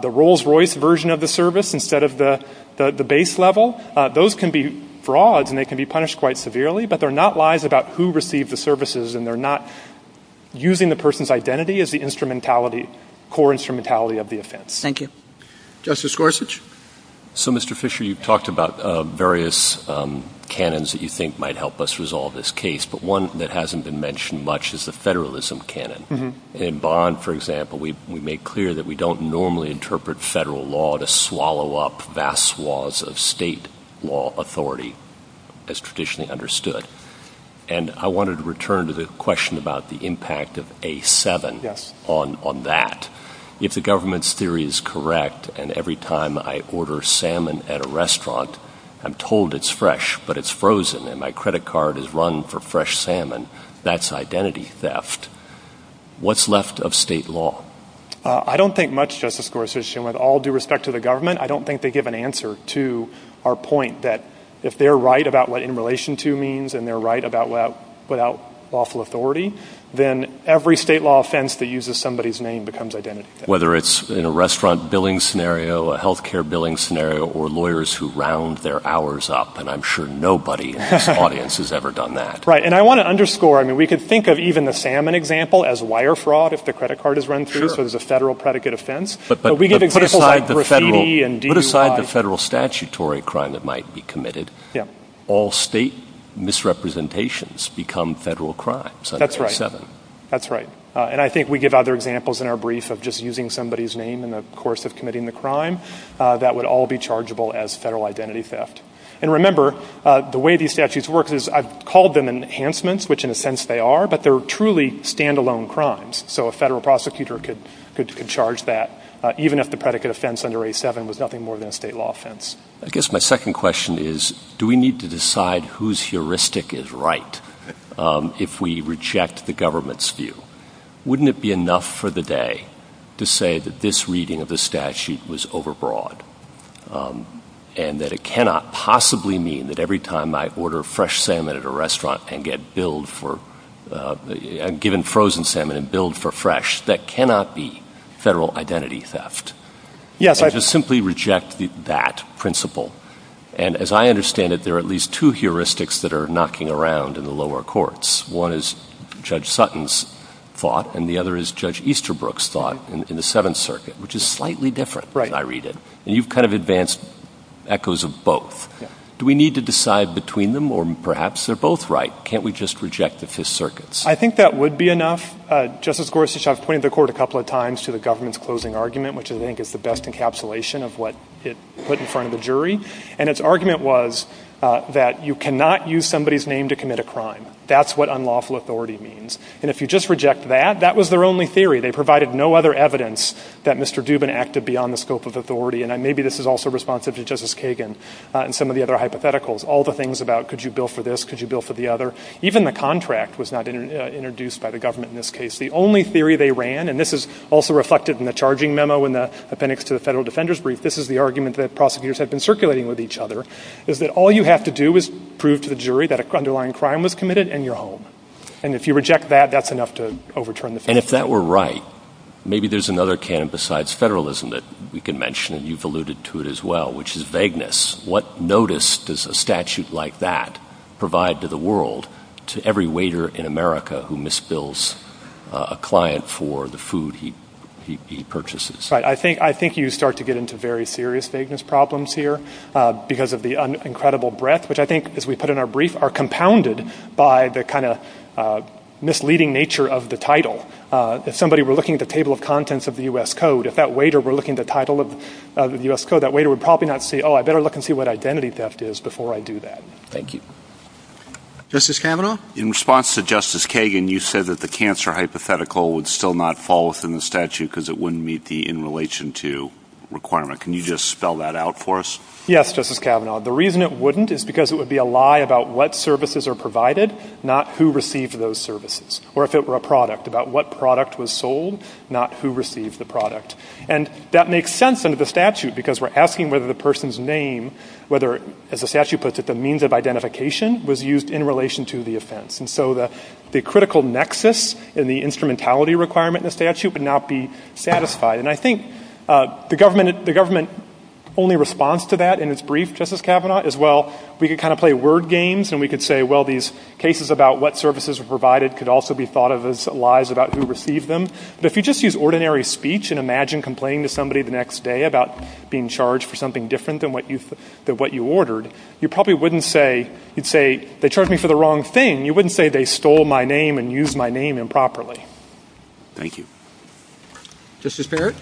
Rolls-Royce version of the service instead of the base level. Those can be fraud, and they can be punished quite severely, but they're not lies about who received the services, and they're not using the person's identity as the core instrumentality of the offense. Thank you. Justice Gorsuch? So, Mr. Fisher, you've talked about various canons that you think might help us resolve this case, but one that hasn't been mentioned much is the federalism canon. In Bond, for example, we make clear that we don't normally interpret federal law to swallow up vast swaths of state law authority, as traditionally understood. And I wanted to return to the question about the impact of A7 on that. If the government's theory is correct, and every time I order salmon at a restaurant, I'm told it's fresh, but it's frozen, and my credit card is run for fresh salmon, that's identity theft. What's left of state law? I don't think much, Justice Gorsuch, and with all due respect to the government, I don't think they give an answer to our point that if they're right about what in relation to means, and they're right about without lawful authority, then every state law offense that uses somebody's name becomes identity theft. Whether it's in a restaurant billing scenario, a health care billing scenario, or lawyers who round their hours up, and I'm sure nobody in this audience has ever done that. Right, and I want to underscore, we could think of even the salmon example as wire fraud, if the credit card is run through, so there's a federal predicate offense. But put aside the federal statutory crime that might be committed, all state misrepresentations become federal crimes under A7. That's right. And I think we give other examples in our brief of just using somebody's name in the course of committing the crime, that would all be chargeable as federal identity theft. And remember, the way these statutes work is I've called them enhancements, which in a sense they are, but they're truly standalone crimes. So a federal prosecutor could charge that, even if the predicate offense under A7 was nothing more than a state law offense. I guess my second question is, do we need to decide who's heuristic is right if we reject the government's view? Wouldn't it be enough for the day to say that this reading of the statute was overbroad, and that it cannot possibly mean that every time I order fresh salmon at a restaurant and get billed for – given frozen salmon and billed for fresh, that cannot be federal identity theft? Yes. And to simply reject that principle. And as I understand it, there are at least two heuristics that are knocking around in the lower courts. One is Judge Sutton's thought, and the other is Judge Easterbrook's thought in the Seventh Circuit, which is slightly different when I read it. And you've kind of advanced echoes of both. Do we need to decide between them, or perhaps they're both right? Can't we just reject the Fifth Circuit's? I think that would be enough. Justice Gorsuch, I've pointed the court a couple of times to the government's closing argument, which I think is the best encapsulation of what it put in front of the jury. And its argument was that you cannot use somebody's name to commit a crime. That's what unlawful authority means. And if you just reject that, that was their only theory. They provided no other evidence that Mr. Dubin acted beyond the scope of authority. And maybe this is also responsive to Justice Kagan and some of the other hypotheticals, all the things about could you bill for this, could you bill for the other. Even the contract was not introduced by the government in this case. The only theory they ran, and this is also reflected in the charging memo and the appendix to the Federal Defender's Brief, this is the argument that prosecutors have been circulating with each other, is that all you have to do is prove to the jury that an underlying crime was committed and you're home. And if you reject that, that's enough to overturn the theory. And if that were right, maybe there's another can besides federalism that we can mention, and you've alluded to it as well, which is vagueness. What notice does a statute like that provide to the world to every waiter in America who misbills a client for the food he purchases? I think you start to get into very serious vagueness problems here because of the incredible breadth, which I think, as we put in our brief, are compounded by the kind of misleading nature of the title. If somebody were looking at the table of contents of the U.S. Code, if that waiter were looking at the title of the U.S. Code, that waiter would probably not see, oh, I better look and see what identity theft is before I do that. Thank you. Justice Kavanaugh? In response to Justice Kagan, you said that the cancer hypothetical would still not fall within the statute because it wouldn't meet the in relation to requirement. Can you just spell that out for us? Yes, Justice Kavanaugh. The reason it wouldn't is because it would be a lie about what services are provided, not who received those services. Or if it were a product, about what product was sold, not who received the product. And that makes sense under the statute because we're asking whether the person's name, whether, as the statute puts it, the means of identification was used in relation to the offense. And so the critical nexus in the instrumentality requirement in the statute would not be satisfied. And I think the government only responds to that in its brief, Justice Kavanaugh, as well we could kind of play word games and we could say, well, these cases about what services are provided could also be thought of as lies about who received them. But if you just use ordinary speech and imagine complaining to somebody the next day about being charged for something different than what you ordered, you probably wouldn't say, you'd say, they charged me for the wrong thing. You wouldn't say they stole my name and used my name improperly. Thank you. Justice Barrett?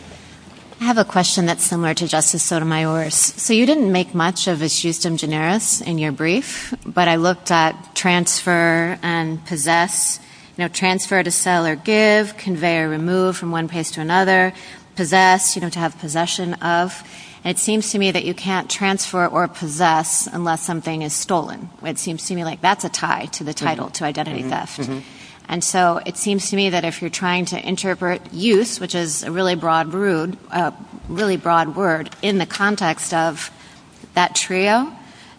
I have a question that's similar to Justice Sotomayor's. So you didn't make much of this justum generis in your brief, but I looked at transfer and possess. You know, transfer to sell or give, convey or remove from one place to another, possess, you don't have possession of. It seems to me that you can't transfer or possess unless something is stolen. It seems to me like that's a tie to the title, to identify theft. And so it seems to me that if you're trying to interpret use, which is a really broad word, in the context of that trio,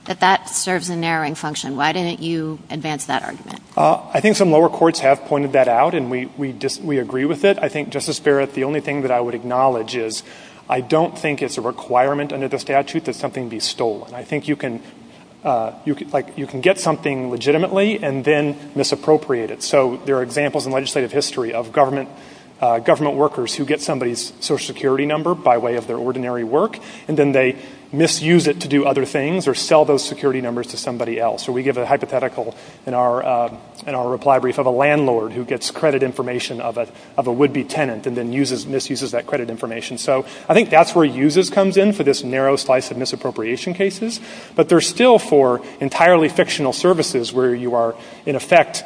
that that serves a narrowing function. Why didn't you advance that argument? I think some lower courts have pointed that out and we agree with it. I think, Justice Barrett, the only thing that I would acknowledge is I don't think it's a requirement under the statute that something be stolen. I think you can get something legitimately and then misappropriate it. So there are examples in legislative history of government workers who get somebody's social security number by way of their ordinary work and then they misuse it to do other things or sell those security numbers to somebody else. So we give a hypothetical in our reply brief of a landlord who gets credit information of a would-be tenant and then misuses that credit information. So I think that's where uses comes in for this narrow slice of misappropriation cases. But they're still for entirely fictional services where you are, in effect,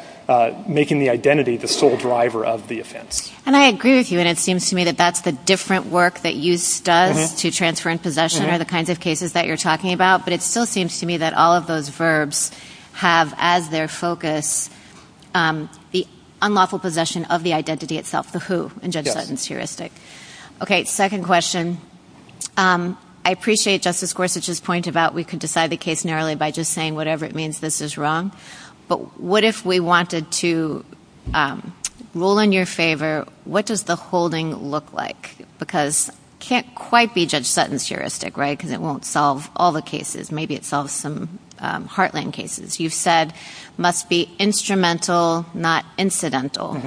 making the identity the sole driver of the offense. And I agree with you. And it seems to me that that's the different work that use does to transfer in possession or the kinds of cases that you're talking about. But it still seems to me that all of those verbs have as their focus the unlawful possession of the identity itself, and that's the who in Judge Sutton's heuristic. Okay, second question. I appreciate Justice Gorsuch's point about we can decide the case narrowly by just saying whatever it means this is wrong. But what if we wanted to rule in your favor? What does the holding look like? Because it can't quite be Judge Sutton's heuristic, right, because it won't solve all the cases. Maybe it solves some heartland cases. You've said it must be instrumental, not incidental.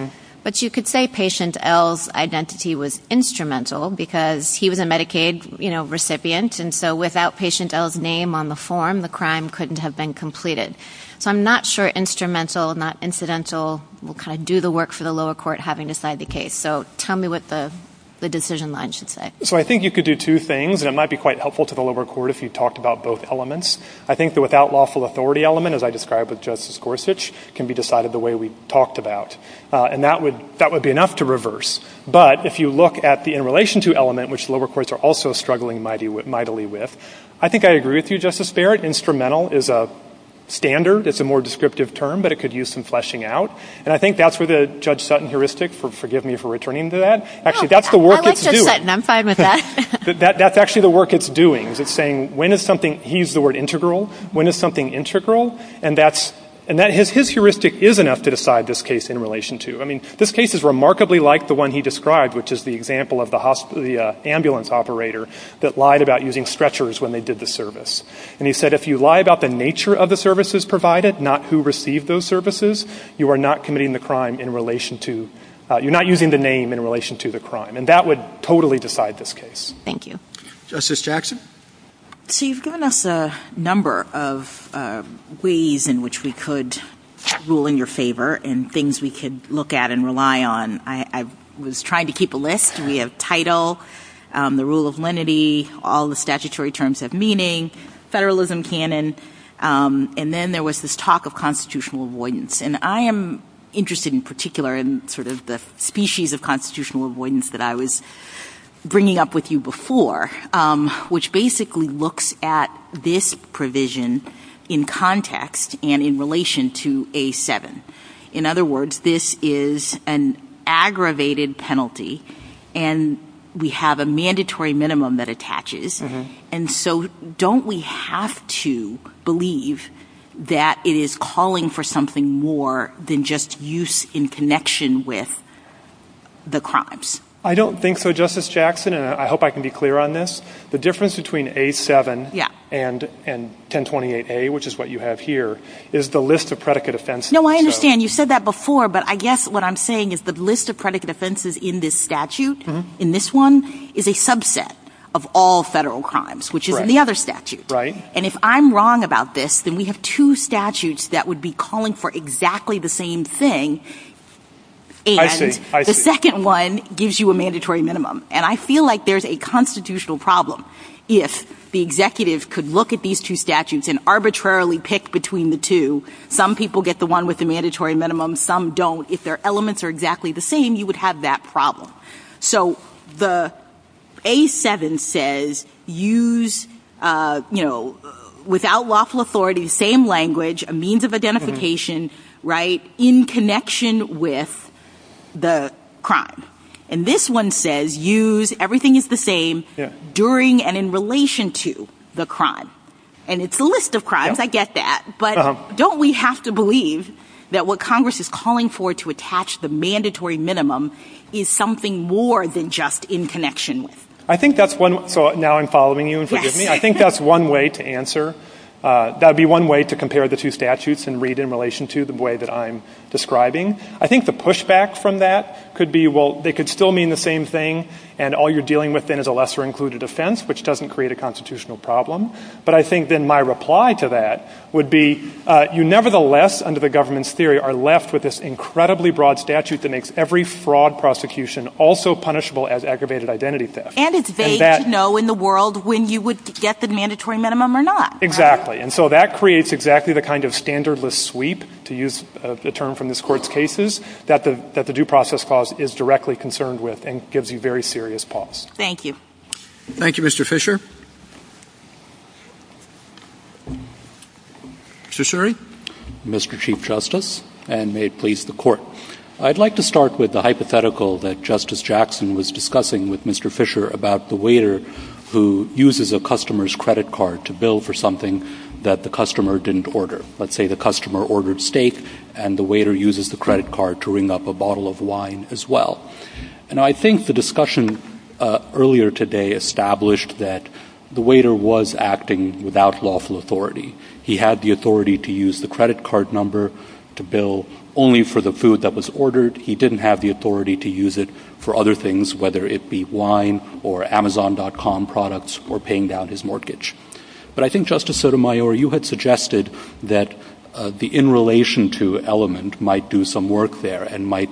But you could say Patient L's identity was instrumental because he was a Medicaid recipient, and so without Patient L's name on the form, the crime couldn't have been completed. So I'm not sure instrumental, not incidental will kind of do the work for the lower court having decided the case. So tell me what the decision line should say. So I think you could do two things, and it might be quite helpful to the lower court if you talked about both elements. I think the without lawful authority element, as I described with Justice Gorsuch, can be decided the way we talked about, and that would be enough to reverse. But if you look at the in relation to element, which lower courts are also struggling mightily with, I think I agree with you, Justice Barrett. Instrumental is a standard. It's a more descriptive term, but it could use some fleshing out. And I think that's where the Judge Sutton heuristic, forgive me for returning to that. Actually, that's the work it's doing. No, I like Judge Sutton. I'm fine with that. That's actually the work it's doing. It's saying when is something, he used the word integral, when is something integral? And his heuristic is enough to decide this case in relation to. I mean, this case is remarkably like the one he described, which is the example of the ambulance operator that lied about using stretchers when they did the service. And he said if you lie about the nature of the services provided, not who received those services, you are not committing the crime in relation to, you're not using the name in relation to the crime. And that would totally decide this case. Thank you. Justice Jackson? So you've given us a number of ways in which we could rule in your favor and things we could look at and rely on. I was trying to keep a list. We have title, the rule of lenity, all the statutory terms of meaning, federalism canon, and then there was this talk of constitutional avoidance. And I am interested in particular in sort of the species of constitutional avoidance that I was bringing up with you before, which basically looks at this provision in context and in relation to A7. In other words, this is an aggravated penalty, and we have a mandatory minimum that attaches. And so don't we have to believe that it is calling for something more than just use in connection with the crimes? I don't think so, Justice Jackson, and I hope I can be clear on this. The difference between A7 and 1028A, which is what you have here, is the list of predicate offenses. No, I understand. You said that before, but I guess what I'm saying is the list of predicate offenses in this statute, in this one, is a subset of all federal crimes, which is in the other statute. Right. And if I'm wrong about this, then we have two statutes that would be calling for exactly the same thing. And the second one gives you a mandatory minimum. And I feel like there's a constitutional problem. If the executive could look at these two statutes and arbitrarily pick between the two, some people get the one with the mandatory minimum, some don't. If their elements are exactly the same, you would have that problem. So the A7 says use, you know, without lawful authority, same language, a means of identification, right, in connection with the crime. And this one says use everything is the same during and in relation to the crime. And it's the list of crimes, I get that, but don't we have to believe that what Congress is calling for to attach the mandatory minimum is something more than just in connection. So now I'm following you, forgive me. I think that's one way to answer. That would be one way to compare the two statutes and read in relation to the way that I'm describing. I think the pushback from that could be, well, they could still mean the same thing, and all you're dealing with then is a lesser included offense, which doesn't create a constitutional problem. But I think then my reply to that would be you nevertheless, under the government's theory, are left with this incredibly broad statute that makes every fraud prosecution also punishable as aggravated identity theft. And it's vague to know in the world when you would get the mandatory minimum or not. Exactly. And so that creates exactly the kind of standardless sweep, to use the term from this Court's cases, that the due process clause is directly concerned with and gives you very serious pause. Thank you. Thank you, Mr. Fisher. Mr. Shirey. Mr. Chief Justice, and may it please the Court. I'd like to start with the hypothetical that Justice Jackson was discussing with Mr. Fisher about the waiter who uses a customer's credit card to bill for something that the customer didn't order. Let's say the customer ordered steak, and the waiter uses the credit card to ring up a bottle of wine as well. And I think the discussion earlier today established that the waiter was acting without lawful authority. He had the authority to use the credit card number to bill only for the food that was ordered. He didn't have the authority to use it for other things, whether it be wine or Amazon.com products or paying down his mortgage. But I think, Justice Sotomayor, you had suggested that the in relation to element might do some work there and might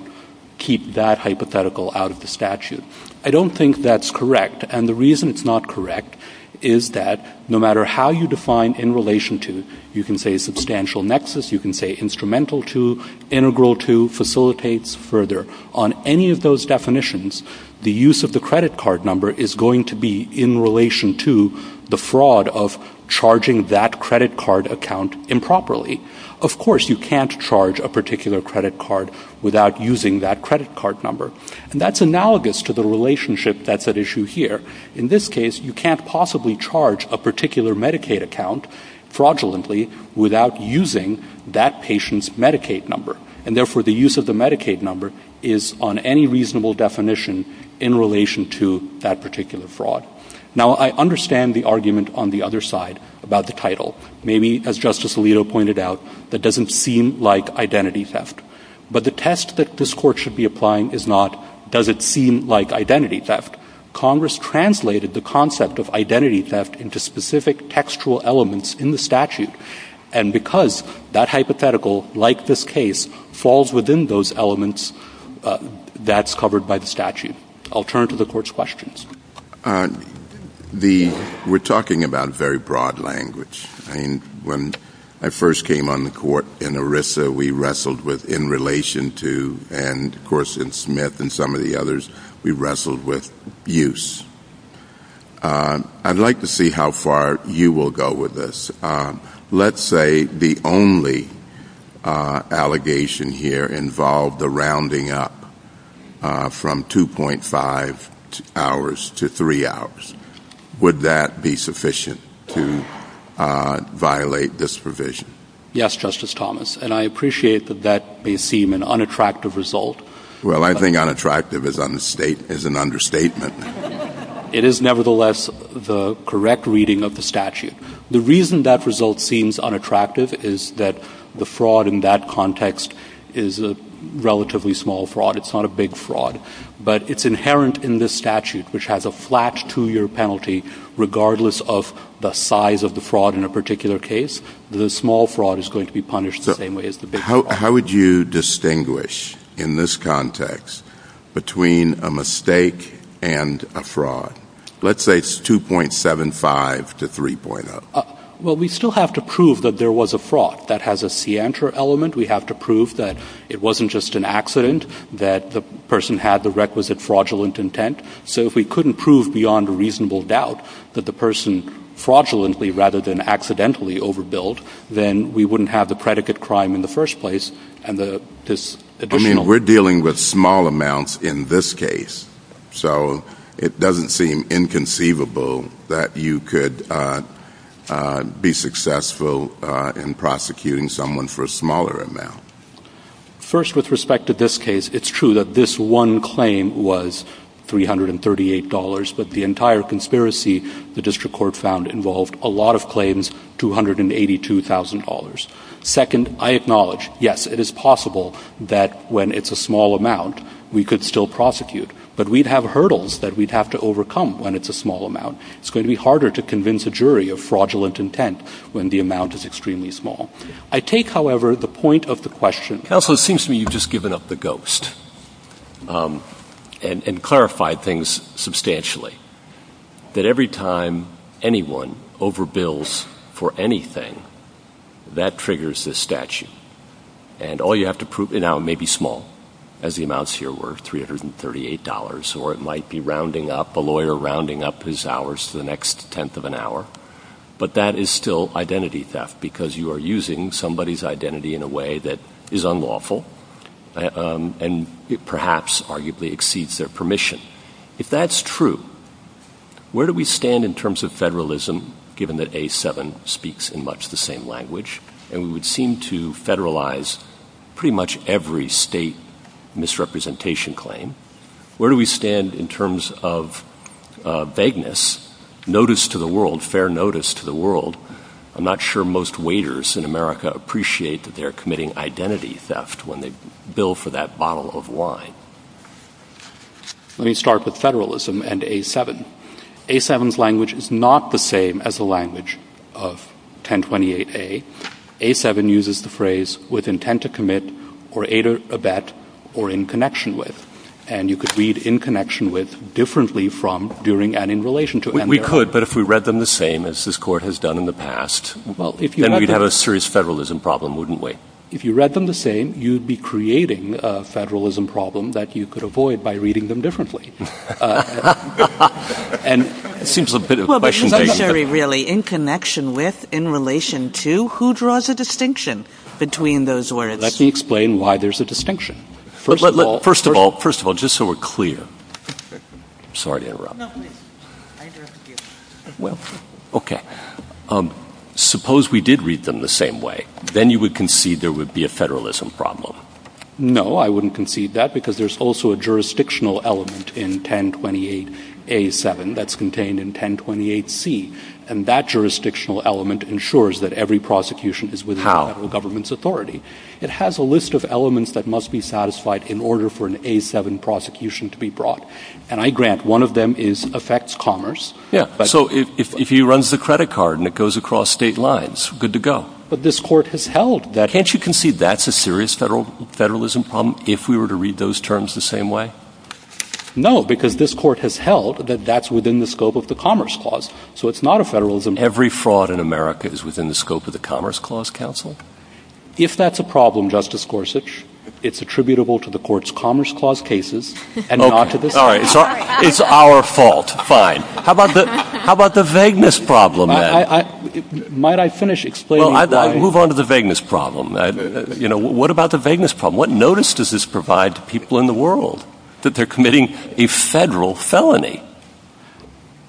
keep that hypothetical out of the statute. I don't think that's correct. And the reason it's not correct is that no matter how you define in relation to, you can say substantial nexus, you can say instrumental to, integral to, facilitates, further. On any of those definitions, the use of the credit card number is going to be in relation to the fraud of charging that credit card account improperly. Of course, you can't charge a particular credit card without using that credit card number. And that's analogous to the relationship that's at issue here. In this case, you can't possibly charge a particular Medicaid account fraudulently without using that patient's Medicaid number. And therefore, the use of the Medicaid number is on any reasonable definition in relation to that particular fraud. Now, I understand the argument on the other side about the title. Maybe, as Justice Alito pointed out, that doesn't seem like identity theft. But the test that this Court should be applying is not does it seem like identity theft. Congress translated the concept of identity theft into specific textual elements in the statute. And because that hypothetical, like this case, falls within those elements, that's covered by the statute. I'll turn to the Court's questions. We're talking about very broad language. When I first came on the Court in ERISA, we wrestled with in relation to, and of course in Smith and some of the others, we wrestled with use. I'd like to see how far you will go with this. Let's say the only allegation here involved the rounding up from 2.5 hours to 3 hours. Would that be sufficient to violate this provision? Yes, Justice Thomas, and I appreciate that that may seem an unattractive result. Well, I think unattractive is an understatement. It is nevertheless the correct reading of the statute. The reason that result seems unattractive is that the fraud in that context is a relatively small fraud. It's not a big fraud. But it's inherent in this statute, which has a flat two-year penalty regardless of the size of the fraud in a particular case. The small fraud is going to be punished the same way as the big fraud. How would you distinguish in this context between a mistake and a fraud? Let's say it's 2.75 to 3.0. Well, we still have to prove that there was a fraud. That has a scienter element. We have to prove that it wasn't just an accident, that the person had the requisite fraudulent intent. So if we couldn't prove beyond a reasonable doubt that the person fraudulently rather than accidentally overbilled, then we wouldn't have the predicate crime in the first place. I mean, we're dealing with small amounts in this case. So it doesn't seem inconceivable that you could be successful in prosecuting someone for a smaller amount. First, with respect to this case, it's true that this one claim was $338, but the entire conspiracy the district court found involved a lot of claims, $282,000. Second, I acknowledge, yes, it is possible that when it's a small amount, we could still prosecute, but we'd have hurdles that we'd have to overcome when it's a small amount. It's going to be harder to convince a jury of fraudulent intent when the amount is extremely small. I take, however, the point of the question. Counsel, it seems to me you've just given up the ghost and clarified things substantially, that every time anyone overbills for anything, that triggers this statute. And all you have to prove now may be small, as the amounts here were $338, or it might be rounding up, a lawyer rounding up his hours to the next tenth of an hour, but that is still identity theft because you are using somebody's identity in a way that is unlawful and perhaps arguably exceeds their permission. If that's true, where do we stand in terms of federalism, given that A7 speaks in much the same language, and we would seem to federalize pretty much every state misrepresentation claim? Where do we stand in terms of vagueness, notice to the world, fair notice to the world? I'm not sure most waiters in America appreciate that they're committing identity theft when they bill for that bottle of wine. Let me start with federalism and A7. A7's language is not the same as the language of 1028A. A7 uses the phrase, with intent to commit, or aid or abet, or in connection with. And you could read in connection with differently from during and in relation to. We could, but if we read them the same as this Court has done in the past, then we'd have a serious federalism problem, wouldn't we? If you read them the same, you'd be creating a federalism problem that you could avoid by reading them differently. And it seems a bit of a question. Well, but it's necessary, really, in connection with, in relation to. Who draws a distinction between those words? Let me explain why there's a distinction. First of all, just so we're clear. Sorry to interrupt. Well, okay. Suppose we did read them the same way. Then you would concede there would be a federalism problem. No, I wouldn't concede that because there's also a jurisdictional element in 1028A7 that's contained in 1028C. And that jurisdictional element ensures that every prosecution is within the federal government's authority. It has a list of elements that must be satisfied in order for an A7 prosecution to be brought. And I grant one of them affects commerce. So if he runs the credit card and it goes across state lines, good to go. But this court has held that. Can't you concede that's a serious federalism problem if we were to read those terms the same way? No, because this court has held that that's within the scope of the Commerce Clause. So it's not a federalism. Every fraud in America is within the scope of the Commerce Clause, counsel. If that's a problem, Justice Gorsuch, it's attributable to the court's Commerce Clause cases and not to this court. All right. It's our fault. Fine. How about the vagueness problem, then? Might I finish explaining? Well, I'd move on to the vagueness problem. You know, what about the vagueness problem? What notice does this provide to people in the world that they're committing a federal felony?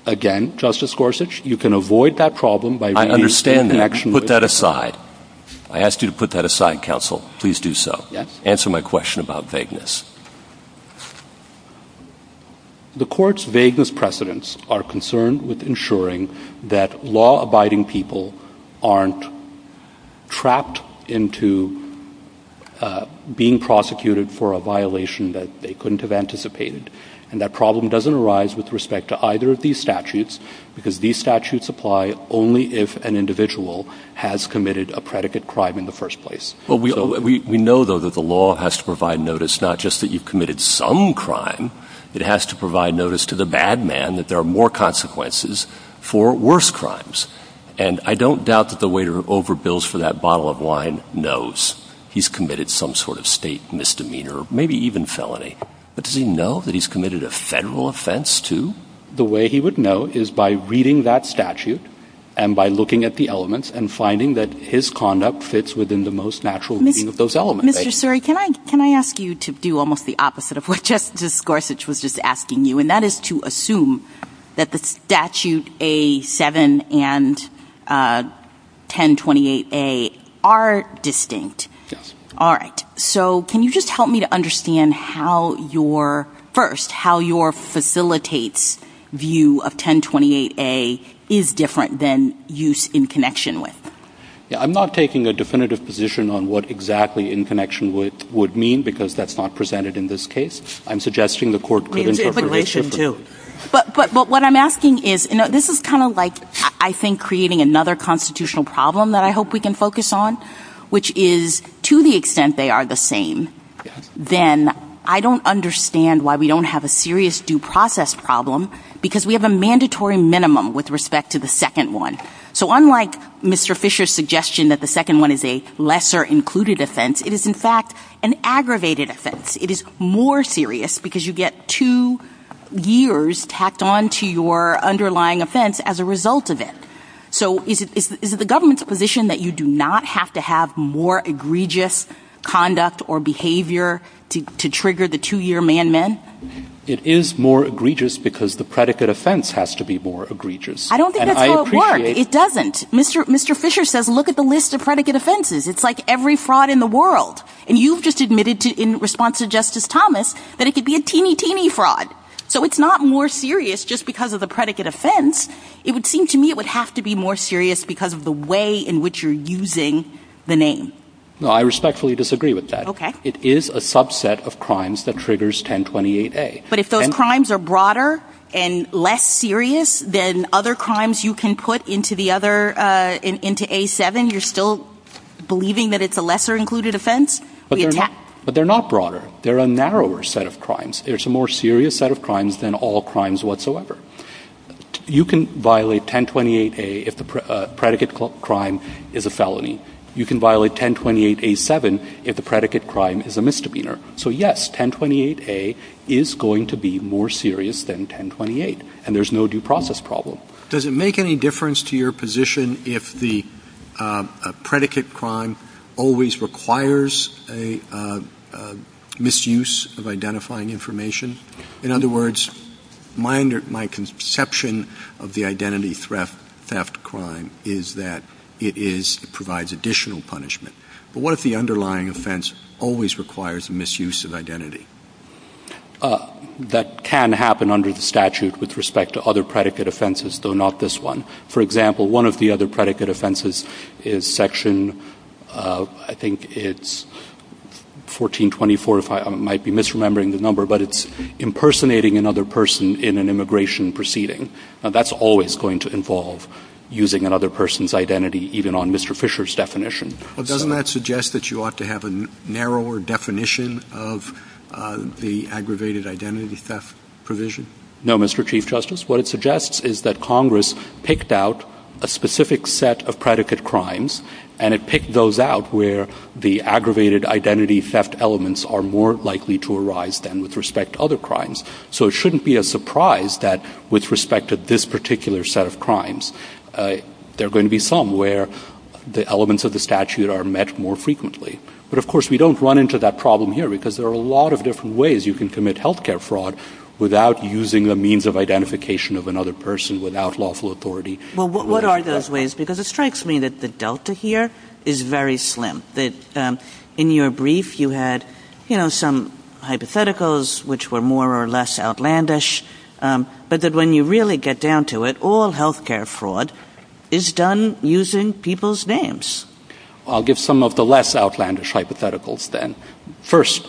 Again, Justice Gorsuch, you can avoid that problem by re-examining it. I understand that. Put that aside. I asked you to put that aside, counsel. Please do so. Answer my question about vagueness. The court's vagueness precedents are concerned with ensuring that law-abiding people aren't trapped into being prosecuted for a violation that they couldn't have anticipated. And that problem doesn't arise with respect to either of these statutes, because these statutes apply only if an individual has committed a predicate crime in the first place. Well, we know, though, that the law has to provide notice not just that you've committed some crime. It has to provide notice to the bad man that there are more consequences for worse crimes. And I don't doubt that the waiter over bills for that bottle of wine knows he's committed some sort of state misdemeanor, maybe even felony. But does he know that he's committed a federal offense, too? The way he would know is by reading that statute and by looking at the elements and finding that his conduct fits within the most natural reading of those elements. Mr. Suri, can I ask you to do almost the opposite of what Justice Gorsuch was just asking you? And that is to assume that the Statute A-7 and 1028A are distinct. Yes. All right, so can you just help me to understand how your first, how your facilitates view of 1028A is different than use in connection with? I'm not taking a definitive position on what exactly in connection with would mean, because that's not presented in this case. I'm suggesting the court could interpret it differently. But what I'm asking is, this is kind of like, I think, creating another constitutional problem that I hope we can focus on, which is, to the extent they are the same, then I don't understand why we don't have a serious due process problem, because we have a mandatory minimum with respect to the second one. So unlike Mr. Fisher's suggestion that the second one is a lesser included offense, it is, in fact, an aggravated offense. It is more serious because you get two years tacked on to your underlying offense as a result of it. So is it the government's position that you do not have to have more egregious conduct or behavior to trigger the two-year man-man? It is more egregious because the predicate offense has to be more egregious. I don't think that's how it works. It doesn't. Mr. Fisher says, look at the list of predicate offenses. It's like every fraud in the world. And you've just admitted in response to Justice Thomas that it could be a teeny, teeny fraud. So it's not more serious just because of the predicate offense. It would seem to me it would have to be more serious because of the way in which you're using the name. No, I respectfully disagree with that. It is a subset of crimes that triggers 1028A. But if those crimes are broader and less serious than other crimes you can put into A7, you're still believing that it's a lesser included offense? There's a more serious set of crimes than all crimes whatsoever. You can violate 1028A if the predicate crime is a felony. You can violate 1028A7 if the predicate crime is a misdemeanor. So yes, 1028A is going to be more serious than 1028. And there's no due process problem. Does it make any difference to your position if the predicate crime always requires a misuse of identifying information? In other words, my conception of the identity theft crime is that it provides additional punishment. But what if the underlying offense always requires a misuse of identity? That can happen under the statute with respect to other predicate offenses, though not this one. For example, one of the other predicate offenses is Section, I think it's 1424, if I might be misremembering the number, but it's impersonating another person in an immigration proceeding. Now, that's always going to involve using another person's identity even on Mr. Fisher's definition. Well, doesn't that suggest that you ought to have a narrower definition of the aggravated identity theft provision? No, Mr. Chief Justice. What it suggests is that Congress picked out a specific set of predicate crimes, and it picked those out where the aggravated identity theft elements are more likely to arise than with respect to other crimes. So it shouldn't be a surprise that with respect to this particular set of crimes, there are going to be some where the elements of the statute are met more frequently. But, of course, we don't run into that problem here because there are a lot of different ways you can commit health care fraud without using a means of identification of another person without lawful authority. Well, what are those ways? Because it strikes me that the delta here is very slim. In your brief, you had some hypotheticals which were more or less outlandish, but that when you really get down to it, all health care fraud is done using people's names. I'll give some of the less outlandish hypotheticals then. First,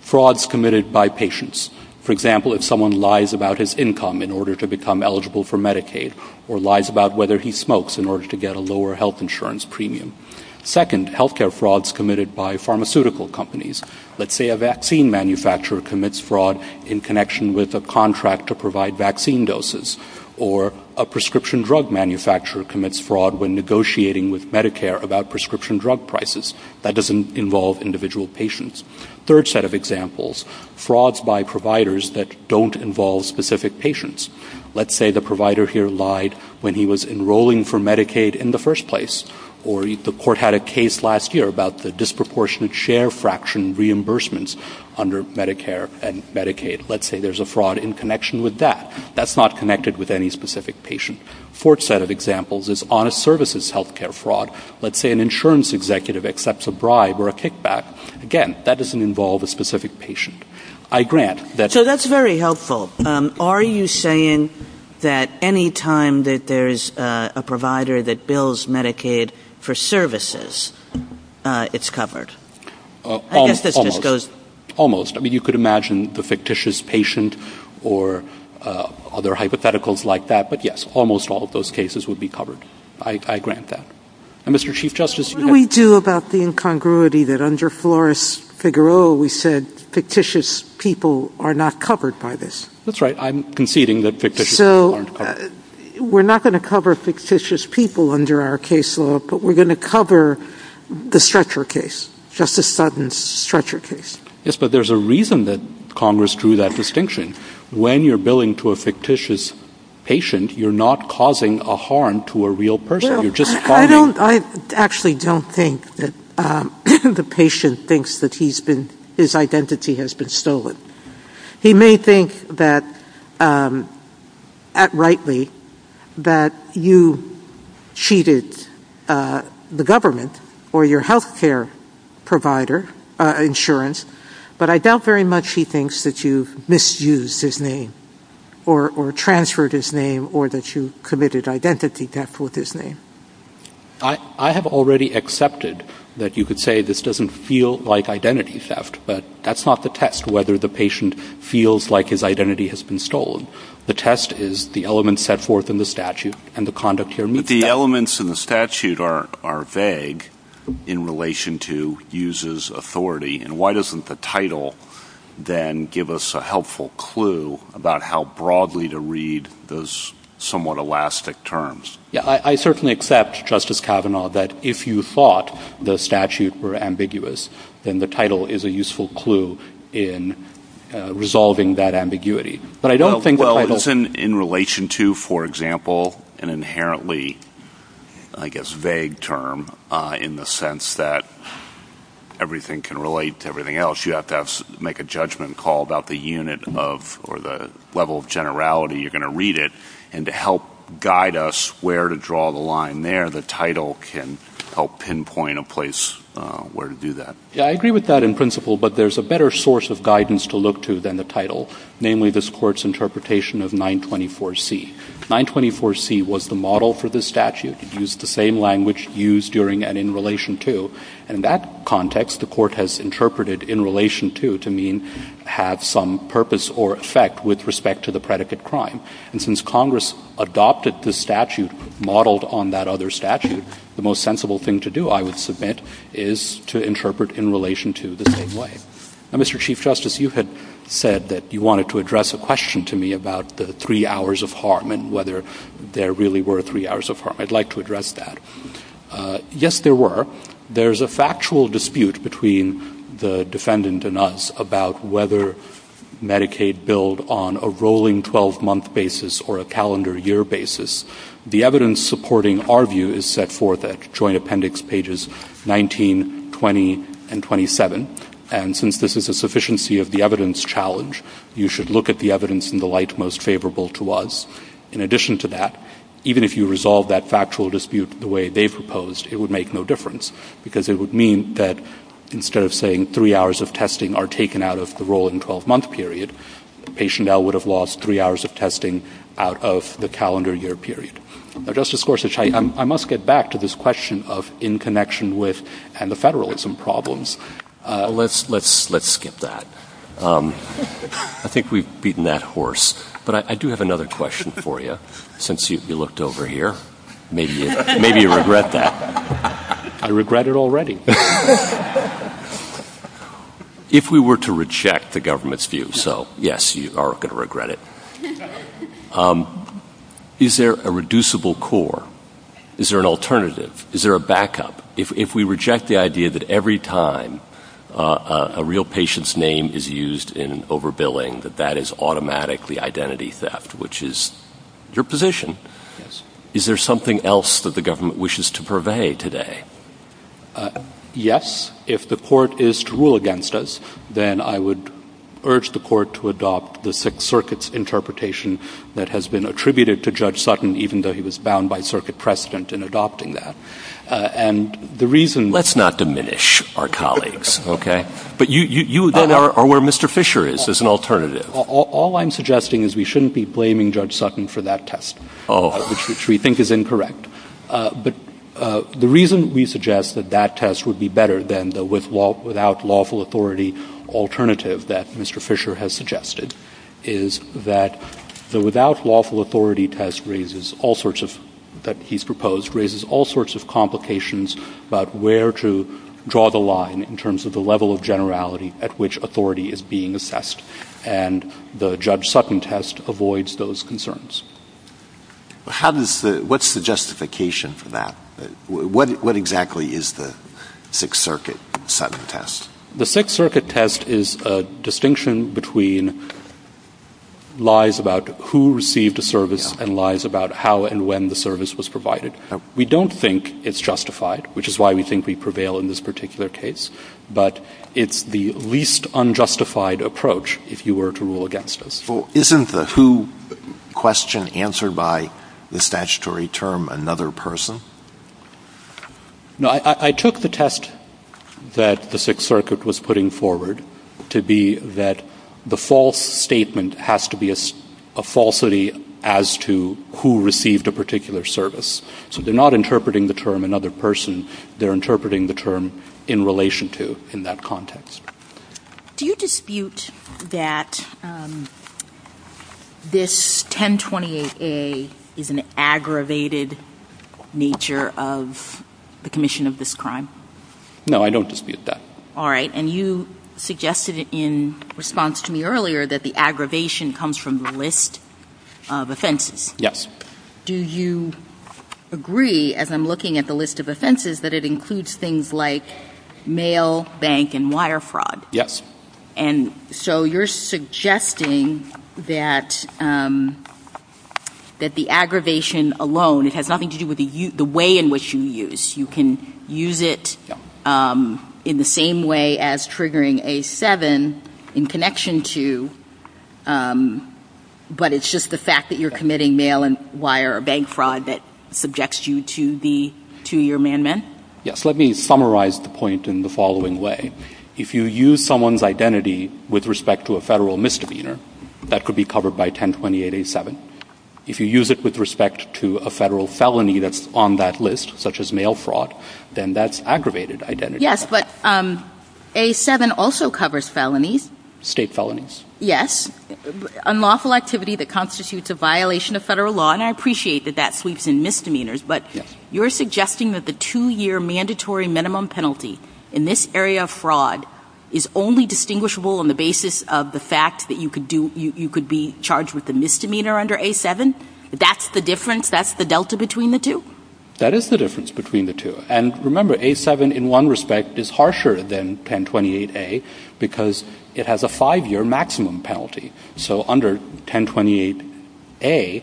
frauds committed by patients. For example, if someone lies about his income in order to become eligible for Medicaid or lies about whether he smokes in order to get a lower health insurance premium. Second, health care frauds committed by pharmaceutical companies. Let's say a vaccine manufacturer commits fraud in connection with a contract to provide vaccine doses. Or a prescription drug manufacturer commits fraud when negotiating with Medicare about prescription drug prices. That doesn't involve individual patients. Third set of examples, frauds by providers that don't involve specific patients. Let's say the provider here lied when he was enrolling for Medicaid in the first place. Or the court had a case last year about the disproportionate share fraction reimbursements under Medicare and Medicaid. Let's say there's a fraud in connection with that. That's not connected with any specific patient. Fourth set of examples is honest services health care fraud. Let's say an insurance executive accepts a bribe or a kickback. Again, that doesn't involve a specific patient. So that's very helpful. Are you saying that any time that there's a provider that bills Medicaid for services, it's covered? Almost. You could imagine the fictitious patient or other hypotheticals like that. But yes, almost all of those cases would be covered. I grant that. What do we do about the incongruity that under Flores-Figueroa we said fictitious people are not covered by this? That's right. I'm conceding that fictitious people aren't covered. So we're not going to cover fictitious people under our case law, but we're going to cover the Stretcher case. Justice Sutton's Stretcher case. Yes, but there's a reason that Congress drew that distinction. When you're billing to a fictitious patient, you're not causing a harm to a real person. I actually don't think that the patient thinks that his identity has been stolen. He may think rightly that you cheated the government or your health care insurance, but I doubt very much he thinks that you misused his name or transferred his name or that you committed identity theft with his name. I have already accepted that you could say this doesn't feel like identity theft, but that's not the test, whether the patient feels like his identity has been stolen. The test is the elements set forth in the statute and the conduct here. But the elements in the statute are vague in relation to uses authority, and why doesn't the title then give us a helpful clue about how broadly to read those somewhat elastic terms? I certainly accept, Justice Kavanaugh, that if you thought the statute were ambiguous, then the title is a useful clue in resolving that ambiguity. Well, isn't in relation to, for example, an inherently, I guess, vague term in the sense that everything can relate to everything else? You have to make a judgment call about the unit of or the level of generality you're going to read it, and to help guide us where to draw the line there, the title can help pinpoint a place where to do that. I agree with that in principle, but there's a better source of guidance to look to than the title, namely this Court's interpretation of 924C. 924C was the model for this statute. It used the same language used during and in relation to. In that context, the Court has interpreted in relation to to mean have some purpose or effect with respect to the predicate crime. And since Congress adopted the statute modeled on that other statute, the most sensible thing to do, I would submit, is to interpret in relation to the same way. Now, Mr. Chief Justice, you had said that you wanted to address a question to me about the three hours of harm and whether there really were three hours of harm. I'd like to address that. Yes, there were. There's a factual dispute between the defendant and us about whether Medicaid billed on a rolling 12-month basis or a calendar year basis. The evidence supporting our view is set forth at Joint Appendix Pages 19, 20, and 27. And since this is a sufficiency of the evidence challenge, you should look at the evidence in the light most favorable to us. In addition to that, even if you resolve that factual dispute the way they proposed, it would make no difference, because it would mean that instead of saying three hours of testing are taken out of the rolling 12-month period, patient L would have lost three hours of testing out of the calendar year period. Now, Justice Gorsuch, I must get back to this question of in connection with the federalism problems. Let's skip that. I think we've beaten that horse. But I do have another question for you, since you looked over here. Maybe you regret that. I regret it already. If we were to reject the government's view, so, yes, you are going to regret it, is there a reducible core? Is there an alternative? Is there a backup? If we reject the idea that every time a real patient's name is used in overbilling, that that is automatically identity theft, which is your position, is there something else that the government wishes to purvey today? Yes. If the court is to rule against us, then I would urge the court to adopt the Sixth Circuit's interpretation that has been attributed to Judge Sutton, even though he was bound by circuit precedent in adopting that. Let's not diminish our colleagues, okay? But you then are where Mr. Fisher is. There's an alternative. All I'm suggesting is we shouldn't be blaming Judge Sutton for that test, which we think is incorrect. But the reason we suggest that that test would be better than the without lawful authority alternative that Mr. Fisher has suggested is that the without lawful authority test that he's proposed raises all sorts of complications about where to draw the line in terms of the level of generality at which authority is being assessed. And the Judge Sutton test avoids those concerns. What's the justification for that? What exactly is the Sixth Circuit Sutton test? The Sixth Circuit test is a distinction between lies about who received a service and lies about how and when the service was provided. We don't think it's justified, which is why we think we prevail in this particular case. But it's the least unjustified approach if you were to rule against us. Well, isn't the who question answered by the statutory term another person? No, I took the test that the Sixth Circuit was putting forward to be that the false statement has to be a falsity as to who received a particular service. So they're not interpreting the term another person. They're interpreting the term in relation to in that context. Do you dispute that this 1028A is an aggravated nature of the commission of this crime? No, I don't dispute that. All right, and you suggested in response to me earlier that the aggravation comes from the list of offenses. Yes. Do you agree, as I'm looking at the list of offenses, that it includes things like mail, bank, and wire fraud? Yes. And so you're suggesting that the aggravation alone has nothing to do with the way in which you use. You can use it in the same way as triggering A7 in connection to, but it's just the fact that you're committing mail and wire or bank fraud that subjects you to the two-year amendment? Yes. Let me summarize the point in the following way. If you use someone's identity with respect to a federal misdemeanor, that could be covered by 1028A7. If you use it with respect to a federal felony that's on that list, such as mail fraud, then that's aggravated identity. Yes, but A7 also covers felonies. State felonies. Yes. Unlawful activity that constitutes a violation of federal law, and I appreciate that that sleeps in misdemeanors, but you're suggesting that the two-year mandatory minimum penalty in this area of fraud is only distinguishable on the basis of the fact that you could be charged with a misdemeanor under A7? That's the difference? That's the delta between the two? That is the difference between the two. And remember, A7 in one respect is harsher than 1028A because it has a five-year maximum penalty. So under 1028A,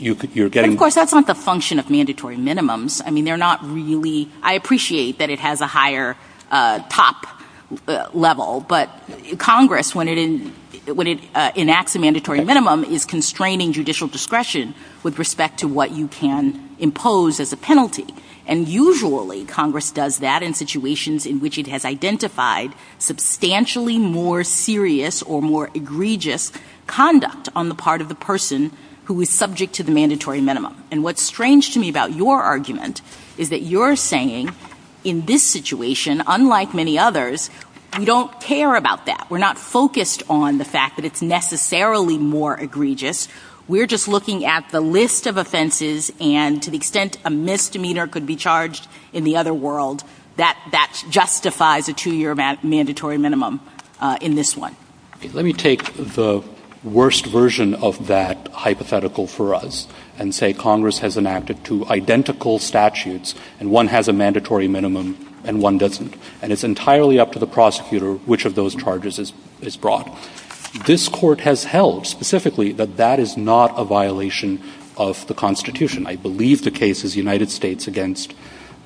you're getting... Of course, that's not the function of mandatory minimums. I mean, they're not really... I appreciate that it has a higher top level, but Congress, when it enacts a mandatory minimum, is constraining judicial discretion with respect to what you can impose as a penalty. And usually, Congress does that in situations in which it has identified substantially more serious or more egregious conduct on the part of the person who is subject to the mandatory minimum. And what's strange to me about your argument is that you're saying, in this situation, unlike many others, we don't care about that. We're not focused on the fact that it's necessarily more egregious. We're just looking at the list of offenses and to the extent a misdemeanor could be charged in the other world, that justifies a two-year mandatory minimum in this one. Let me take the worst version of that hypothetical for us and say Congress has enacted two identical statutes, and one has a mandatory minimum and one doesn't. And it's entirely up to the prosecutor which of those charges is brought. This court has held specifically that that is not a violation of the Constitution. I believe the case is United States against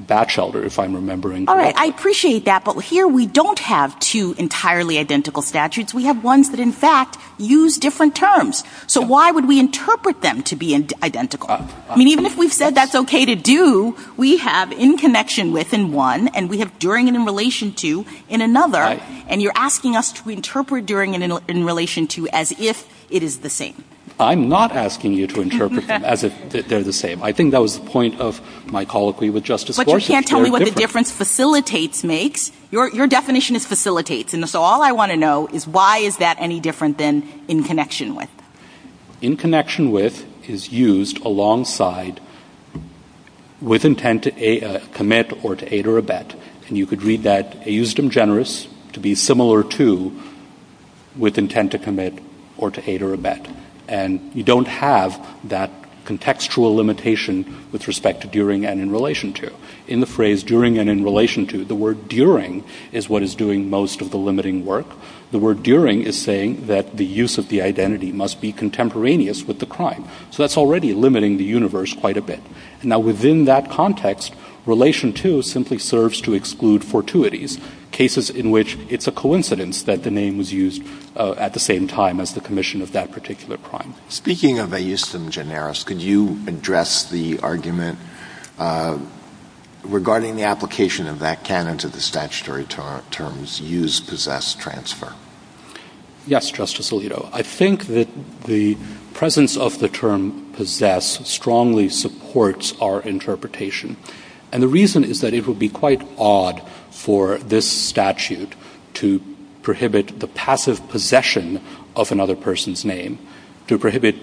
Batchelder, if I'm remembering correctly. All right. I appreciate that. But here we don't have two entirely identical statutes. We have ones that, in fact, use different terms. So why would we interpret them to be identical? I mean, even if we said that's okay to do, we have in connection with in one, and we have during and in relation to in another. And you're asking us to interpret during and in relation to as if it is the same. I'm not asking you to interpret as if they're the same. I think that was the point of my colloquy with Justice Gorsuch. But you can't tell me what the difference facilitates makes. Your definition is facilitates. And so all I want to know is why is that any different than in connection with? In connection with is used alongside with intent to commit or to aid or abet. And you could read that as used in generous to be similar to with intent to commit or to aid or abet. And you don't have that contextual limitation with respect to during and in relation to. In the phrase during and in relation to, the word during is what is doing most of the limiting work. The word during is saying that the use of the identity must be contemporaneous with the crime. So that's already limiting the universe quite a bit. Now, within that context, relation to simply serves to exclude fortuities, cases in which it's a coincidence that the name is used at the same time as the commission of that particular crime. Speaking of a use of generous, could you address the argument regarding the application of that canon to the statutory terms use, possess, transfer? Yes, Justice Alito. I think that the presence of the term possess strongly supports our interpretation. And the reason is that it would be quite odd for this statute to prohibit the passive possession of another person's name, to prohibit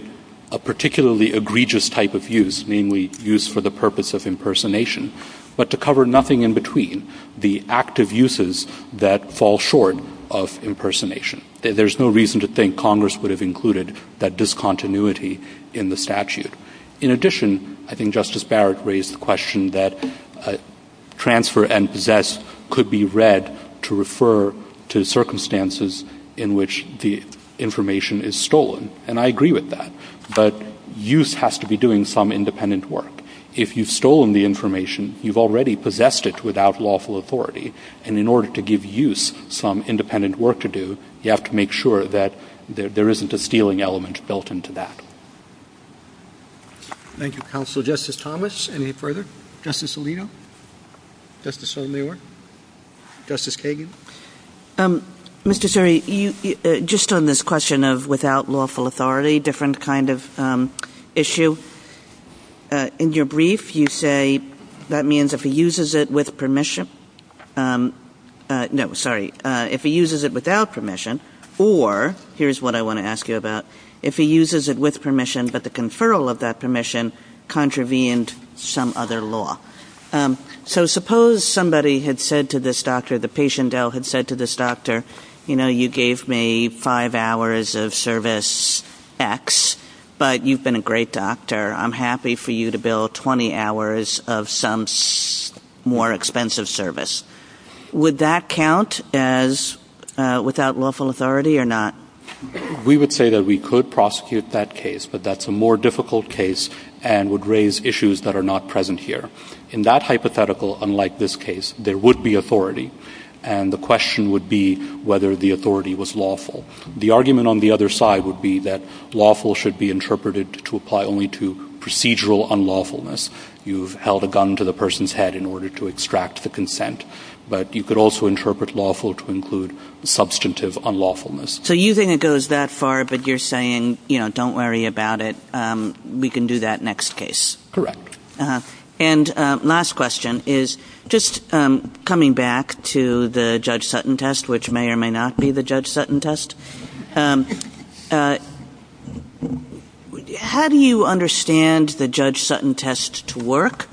a particularly egregious type of use, meaning we use for the purpose of impersonation, but to cover nothing in between the active uses that fall short of impersonation. There's no reason to think Congress would have included that discontinuity in the statute. In addition, I think Justice Barrett raised the question that transfer and possess could be read to refer to circumstances in which the information is stolen. And I agree with that. But use has to be doing some independent work. If you've stolen the information, you've already possessed it without lawful authority. And in order to give use some independent work to do, you have to make sure that there isn't a stealing element built into that. Thank you, Counsel. Justice Thomas, any further? Justice Alito? Justice O'Leary? Justice Kagan? Mr. Suri, just on this question of without lawful authority, different kind of issue, in your brief, you say that means if he uses it with permission, no, sorry, if he uses it without permission, or here's what I want to ask you about, if he uses it with permission, but the conferral of that permission contravened some other law. So suppose somebody had said to this doctor, the patient had said to this doctor, you know, you gave me five hours of service X, but you've been a great doctor. I'm happy for you to bill 20 hours of some more expensive service. Would that count as without lawful authority or not? We would say that we could prosecute that case, but that's a more difficult case and would raise issues that are not present here. In that hypothetical, unlike this case, there would be authority, and the question would be whether the authority was lawful. The argument on the other side would be that lawful should be interpreted to apply only to procedural unlawfulness. You've held a gun to the person's head in order to extract the consent, but you could also interpret lawful to include substantive unlawfulness. So you think it goes that far, but you're saying, you know, don't worry about it. We can do that next case. Correct. And last question is, just coming back to the Judge Sutton test, which may or may not be the Judge Sutton test, how do you understand the Judge Sutton test to work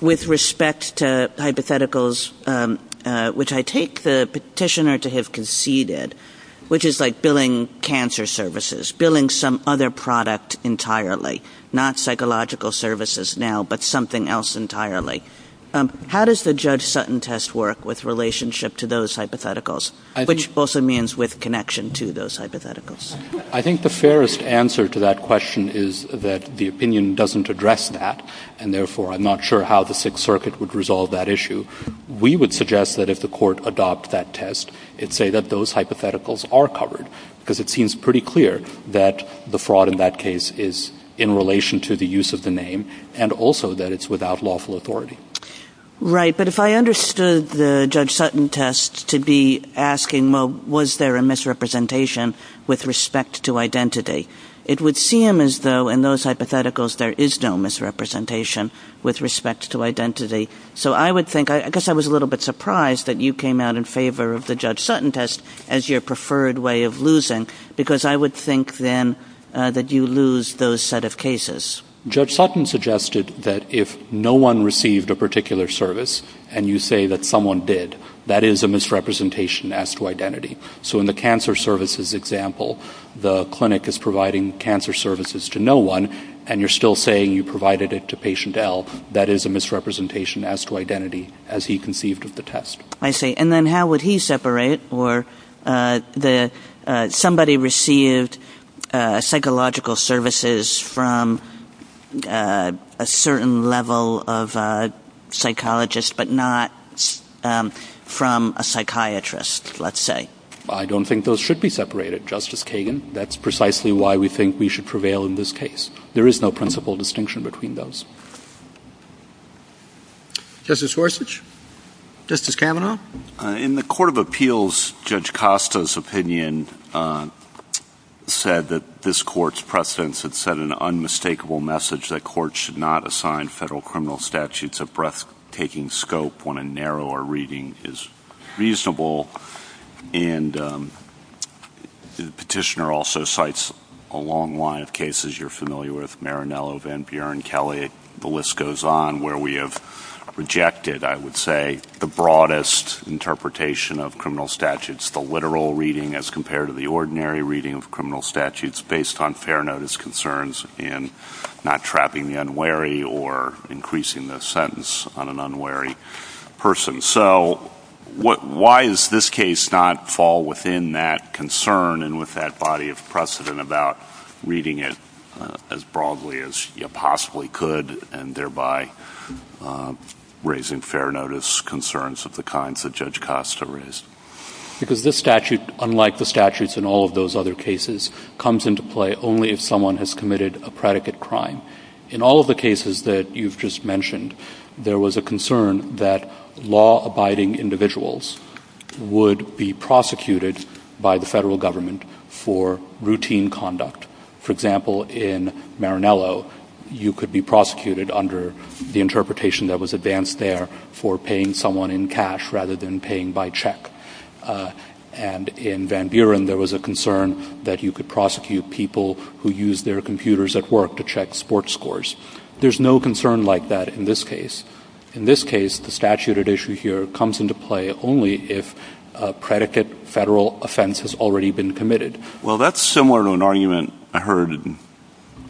with respect to hypotheticals, which I take the petitioner to have conceded, which is like billing cancer services, billing some other product entirely, not psychological services now, but something else entirely. How does the Judge Sutton test work with relationship to those hypotheticals, which also means with connection to those hypotheticals? I think the fairest answer to that question is that the opinion doesn't address that, and therefore I'm not sure how the Sixth Circuit would resolve that issue. We would suggest that if the court adopt that test, it say that those hypotheticals are covered, because it seems pretty clear that the fraud in that case is in relation to the use of the name, and also that it's without lawful authority. Right, but if I understood the Judge Sutton test to be asking, well, was there a misrepresentation with respect to identity, it would seem as though in those hypotheticals there is no misrepresentation with respect to identity. So I would think, I guess I was a little bit surprised that you came out in favor of the Judge Sutton test as your preferred way of losing, because I would think then that you lose those set of cases. Judge Sutton suggested that if no one received a particular service, and you say that someone did, that is a misrepresentation as to identity. So in the cancer services example, the clinic is providing cancer services to no one, and you're still saying you provided it to patient L. That is a misrepresentation as to identity, as he conceived of the test. I see. And then how would he separate, or somebody received psychological services from a certain level of psychologist, but not from a psychiatrist, let's say. I don't think those should be separated, Justice Kagan. That's precisely why we think we should prevail in this case. There is no principle distinction between those. Justice Gorsuch. Justice Kavanaugh. In the Court of Appeals, Judge Costa's opinion said that this Court's precedence had sent an unmistakable message that courts should not assign federal criminal statutes a breathtaking scope when a narrower reading is reasonable. And the petitioner also cites a long line of cases you're familiar with, Maranello, Van Buren, Kelly. The list goes on where we have rejected, I would say, the broadest interpretation of criminal statutes, the literal reading as compared to the ordinary reading of criminal statutes, based on fair notice concerns and not trapping the unwary or increasing the sentence on an unwary person. So why does this case not fall within that concern and with that body of precedent about reading it as broadly as you possibly could and thereby raising fair notice concerns of the kinds that Judge Costa raised? Because this statute, unlike the statutes in all of those other cases, comes into play only if someone has committed a predicate crime. In all of the cases that you've just mentioned, there was a concern that law-abiding individuals would be prosecuted by the federal government for routine conduct. For example, in Maranello, you could be prosecuted under the interpretation that was advanced there for paying someone in cash rather than paying by check. And in Van Buren, there was a concern that you could prosecute people who use their computers at work to check sports scores. There's no concern like that in this case. In this case, the statute at issue here comes into play only if a predicate federal offense has already been committed. Well, that's similar to an argument I heard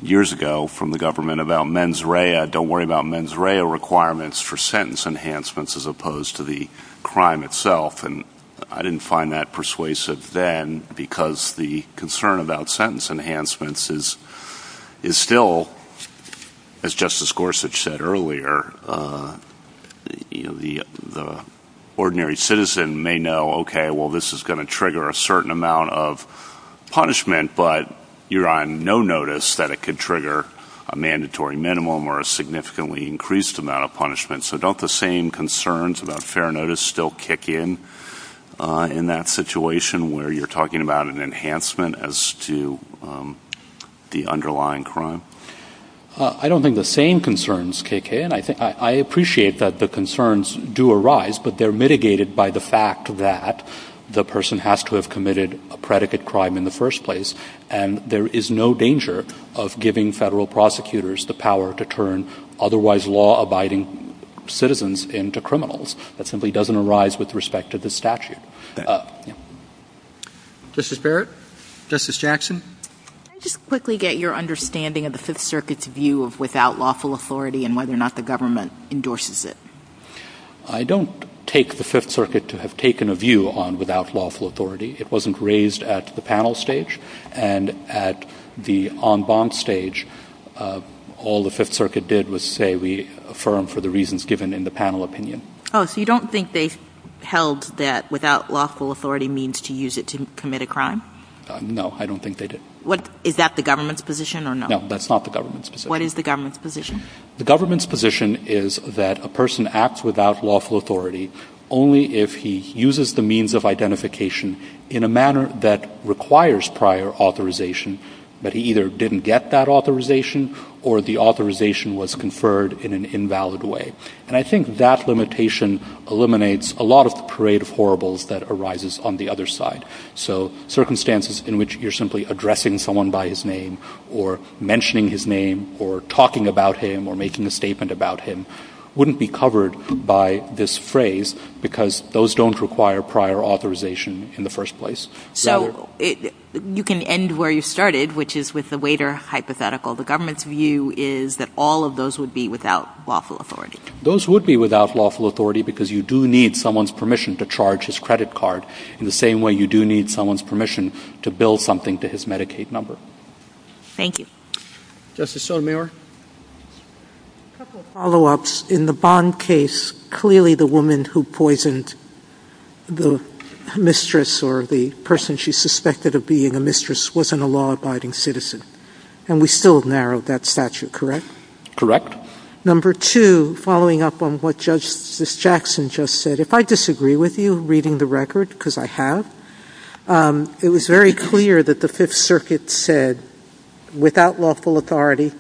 years ago from the government about mens rea. Don't worry about mens rea requirements for sentence enhancements as opposed to the crime itself. And I didn't find that persuasive then because the concern about sentence enhancements is still, as Justice Gorsuch said earlier, the ordinary citizen may know, okay, well, this is going to trigger a certain amount of punishment, but you're on no notice that it could trigger a mandatory minimum or a significantly increased amount of punishment. So don't the same concerns about fair notice still kick in in that situation where you're talking about an enhancement as to the underlying crime? I don't think the same concerns kick in. I appreciate that the concerns do arise, but they're mitigated by the fact that the person has to have committed a predicate crime in the first place, and there is no danger of giving federal prosecutors the power to turn otherwise law-abiding citizens into criminals. That simply doesn't arise with respect to this statute. Justice Barrett? Justice Jackson? Can I just quickly get your understanding of the Fifth Circuit's view of without lawful authority and whether or not the government endorses it? I don't take the Fifth Circuit to have taken a view on without lawful authority. It wasn't raised at the panel stage, and at the en banc stage, all the Fifth Circuit did was say we affirm for the reasons given in the panel opinion. Oh, so you don't think they held that without lawful authority means to use it to commit a crime? No, I don't think they did. Is that the government's position or no? No, that's not the government's position. What is the government's position? The government's position is that a person acts without lawful authority only if he uses the means of identification in a manner that requires prior authorization, that he either didn't get that authorization or the authorization was conferred in an invalid way. And I think that limitation eliminates a lot of the parade of horribles that arises on the other side, so circumstances in which you're simply addressing someone by his name or mentioning his name or talking about him or making a statement about him wouldn't be covered by this phrase because those don't require prior authorization in the first place. So you can end where you started, which is with the waiter hypothetical. The government's view is that all of those would be without lawful authority. Those would be without lawful authority because you do need someone's permission to charge his credit card in the same way you do need someone's permission to bill something to his Medicaid number. Thank you. Justice Sotomayor? A couple of follow-ups. In the Bond case, clearly the woman who poisoned the mistress or the person she suspected of being a mistress wasn't a law-abiding citizen, and we still narrowed that statute, correct? Correct. Number two, following up on what Justice Jackson just said, if I disagree with you reading the record, because I have, it was very clear that the Fifth Circuit said without lawful authority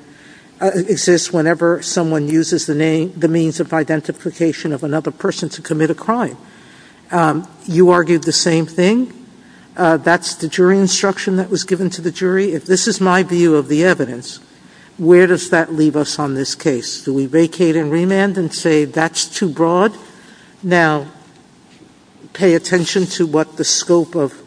exists whenever someone uses the means of identification of another person to commit a crime. You argued the same thing. That's the jury instruction that was given to the jury. If this is my view of the evidence, where does that leave us on this case? Do we vacate and remand and say that's too broad? Now, pay attention to what the scope of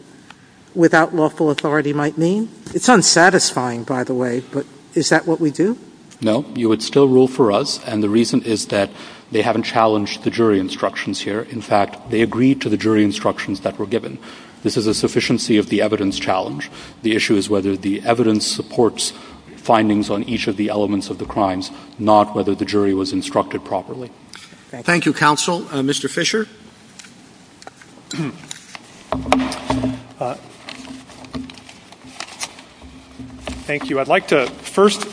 without lawful authority might mean. It's unsatisfying, by the way, but is that what we do? No. You would still rule for us, and the reason is that they haven't challenged the jury instructions here. In fact, they agreed to the jury instructions that were given. This is a sufficiency of the evidence challenge. The issue is whether the evidence supports findings on each of the elements of the crimes, not whether the jury was instructed properly. Thank you, Counsel. Mr. Fisher? Thank you. I'd like to first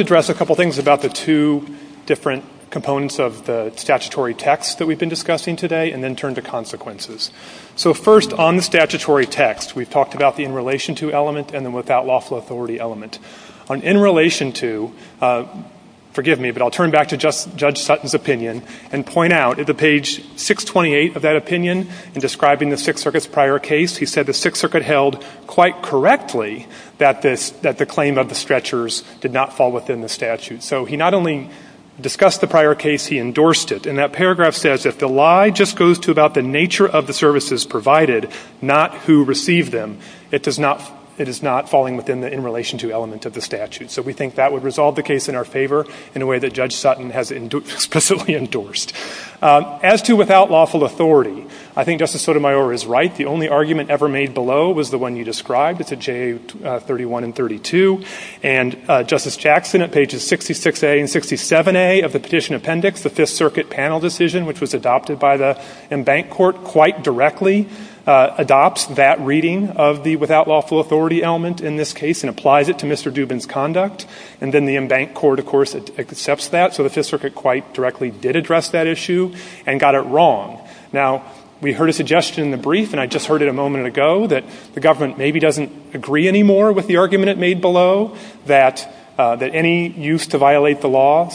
address a couple things about the two different components of the statutory text that we've been discussing today and then turn to consequences. So first, on the statutory text, we've talked about the in relation to element and the without lawful authority element. On in relation to, forgive me, but I'll turn back to Judge Sutton's opinion and point out at page 628 of that opinion in describing the Sixth Circuit's prior case, he said the Sixth Circuit held quite correctly that the claim of the stretchers did not fall within the statute. So he not only discussed the prior case, he endorsed it. And that paragraph says, if the lie just goes to about the nature of the services provided, not who received them, it is not falling within the in relation to element of the statute. So we think that would resolve the case in our favor in a way that Judge Sutton has specifically endorsed. As to without lawful authority, I think Justice Sotomayor is right. The only argument ever made below was the one you described with the J31 and 32, and Justice Jackson at pages 66A and 67A of the petition appendix, the Fifth Circuit panel decision, which was adopted by the embanked court quite directly, adopts that reading of the without lawful authority element in this case and applies it to Mr. Dubin's conduct. And then the embanked court, of course, accepts that. So the Sixth Circuit quite directly did address that issue and got it wrong. Now, we heard a suggestion in the brief, and I just heard it a moment ago, that the government maybe doesn't agree anymore with the argument it made below that any use to violate the law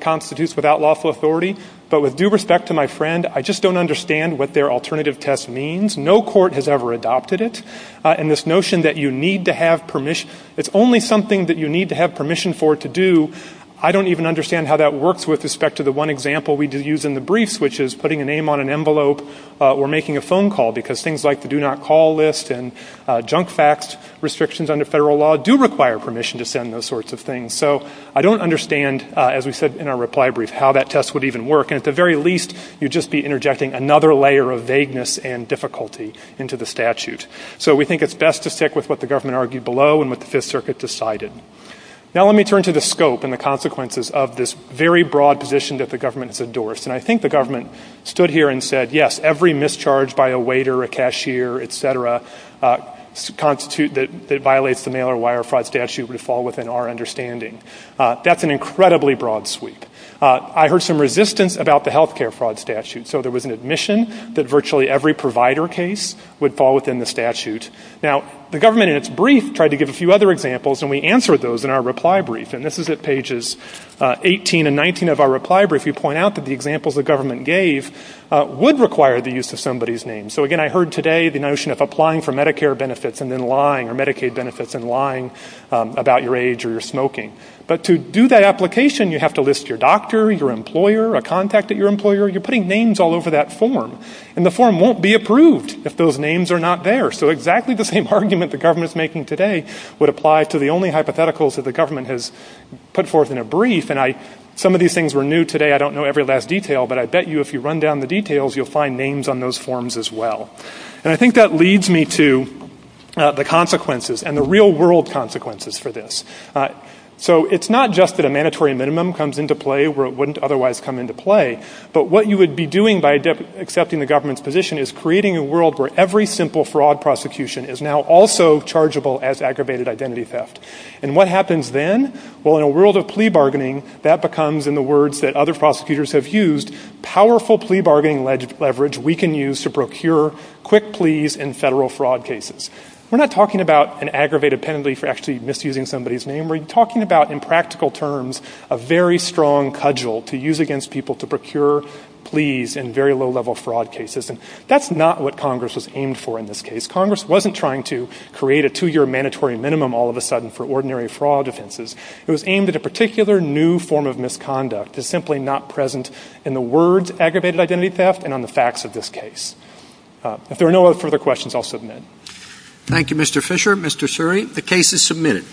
constitutes without lawful authority. But with due respect to my friend, I just don't understand what their alternative test means. No court has ever adopted it. And this notion that you need to have permission, it's only something that you need to have permission for to do, I don't even understand how that works with respect to the one example we did use in the briefs, which is putting a name on an envelope or making a phone call, because things like the do not call list and junk fax restrictions under federal law do require permission to send those sorts of things. So I don't understand, as we said in our reply brief, how that test would even work. And at the very least, you'd just be interjecting another layer of vagueness and difficulty into the statute. So we think it's best to stick with what the government argued below and what the Fifth Circuit decided. Now let me turn to the scope and the consequences of this very broad position that the government has endorsed. And I think the government stood here and said, yes, every mischarge by a waiter, a cashier, et cetera, that violates the mail-or-wire fraud statute would fall within our understanding. That's an incredibly broad sweep. I heard some resistance about the health care fraud statute. So there was an admission that virtually every provider case would fall within the statute. Now the government in its brief tried to give a few other examples, and we answered those in our reply brief. And this is at pages 18 and 19 of our reply brief. We point out that the examples the government gave would require the use of somebody's name. So, again, I heard today the notion of applying for Medicare benefits and then lying or Medicaid benefits and lying about your age or your smoking. But to do that application, you have to list your doctor, your employer, a contact at your employer. You're putting names all over that form. And the form won't be approved if those names are not there. So exactly the same argument the government's making today would apply to the only hypotheticals that the government has put forth in a brief. And some of these things were new today. I don't know every last detail. But I bet you if you run down the details, you'll find names on those forms as well. And I think that leads me to the consequences and the real-world consequences for this. So it's not just that a mandatory minimum comes into play where it wouldn't otherwise come into play. But what you would be doing by accepting the government's position is creating a world where every simple fraud prosecution is now also chargeable as aggravated identity theft. And what happens then? Well, in a world of plea bargaining, that becomes, in the words that other prosecutors have used, powerful plea bargaining leverage we can use to procure quick pleas in federal fraud cases. We're not talking about an aggravated penalty for actually misusing somebody's name. We're talking about, in practical terms, a very strong cudgel to use against people to procure pleas in very low-level fraud cases. And that's not what Congress was aimed for in this case. Congress wasn't trying to create a two-year mandatory minimum all of a sudden for ordinary fraud offenses. It was aimed at a particular new form of misconduct that's simply not present in the words aggravated identity theft and on the facts of this case. If there are no further questions, I'll submit. Thank you, Mr. Fisher. Mr. Suri, the case is submitted.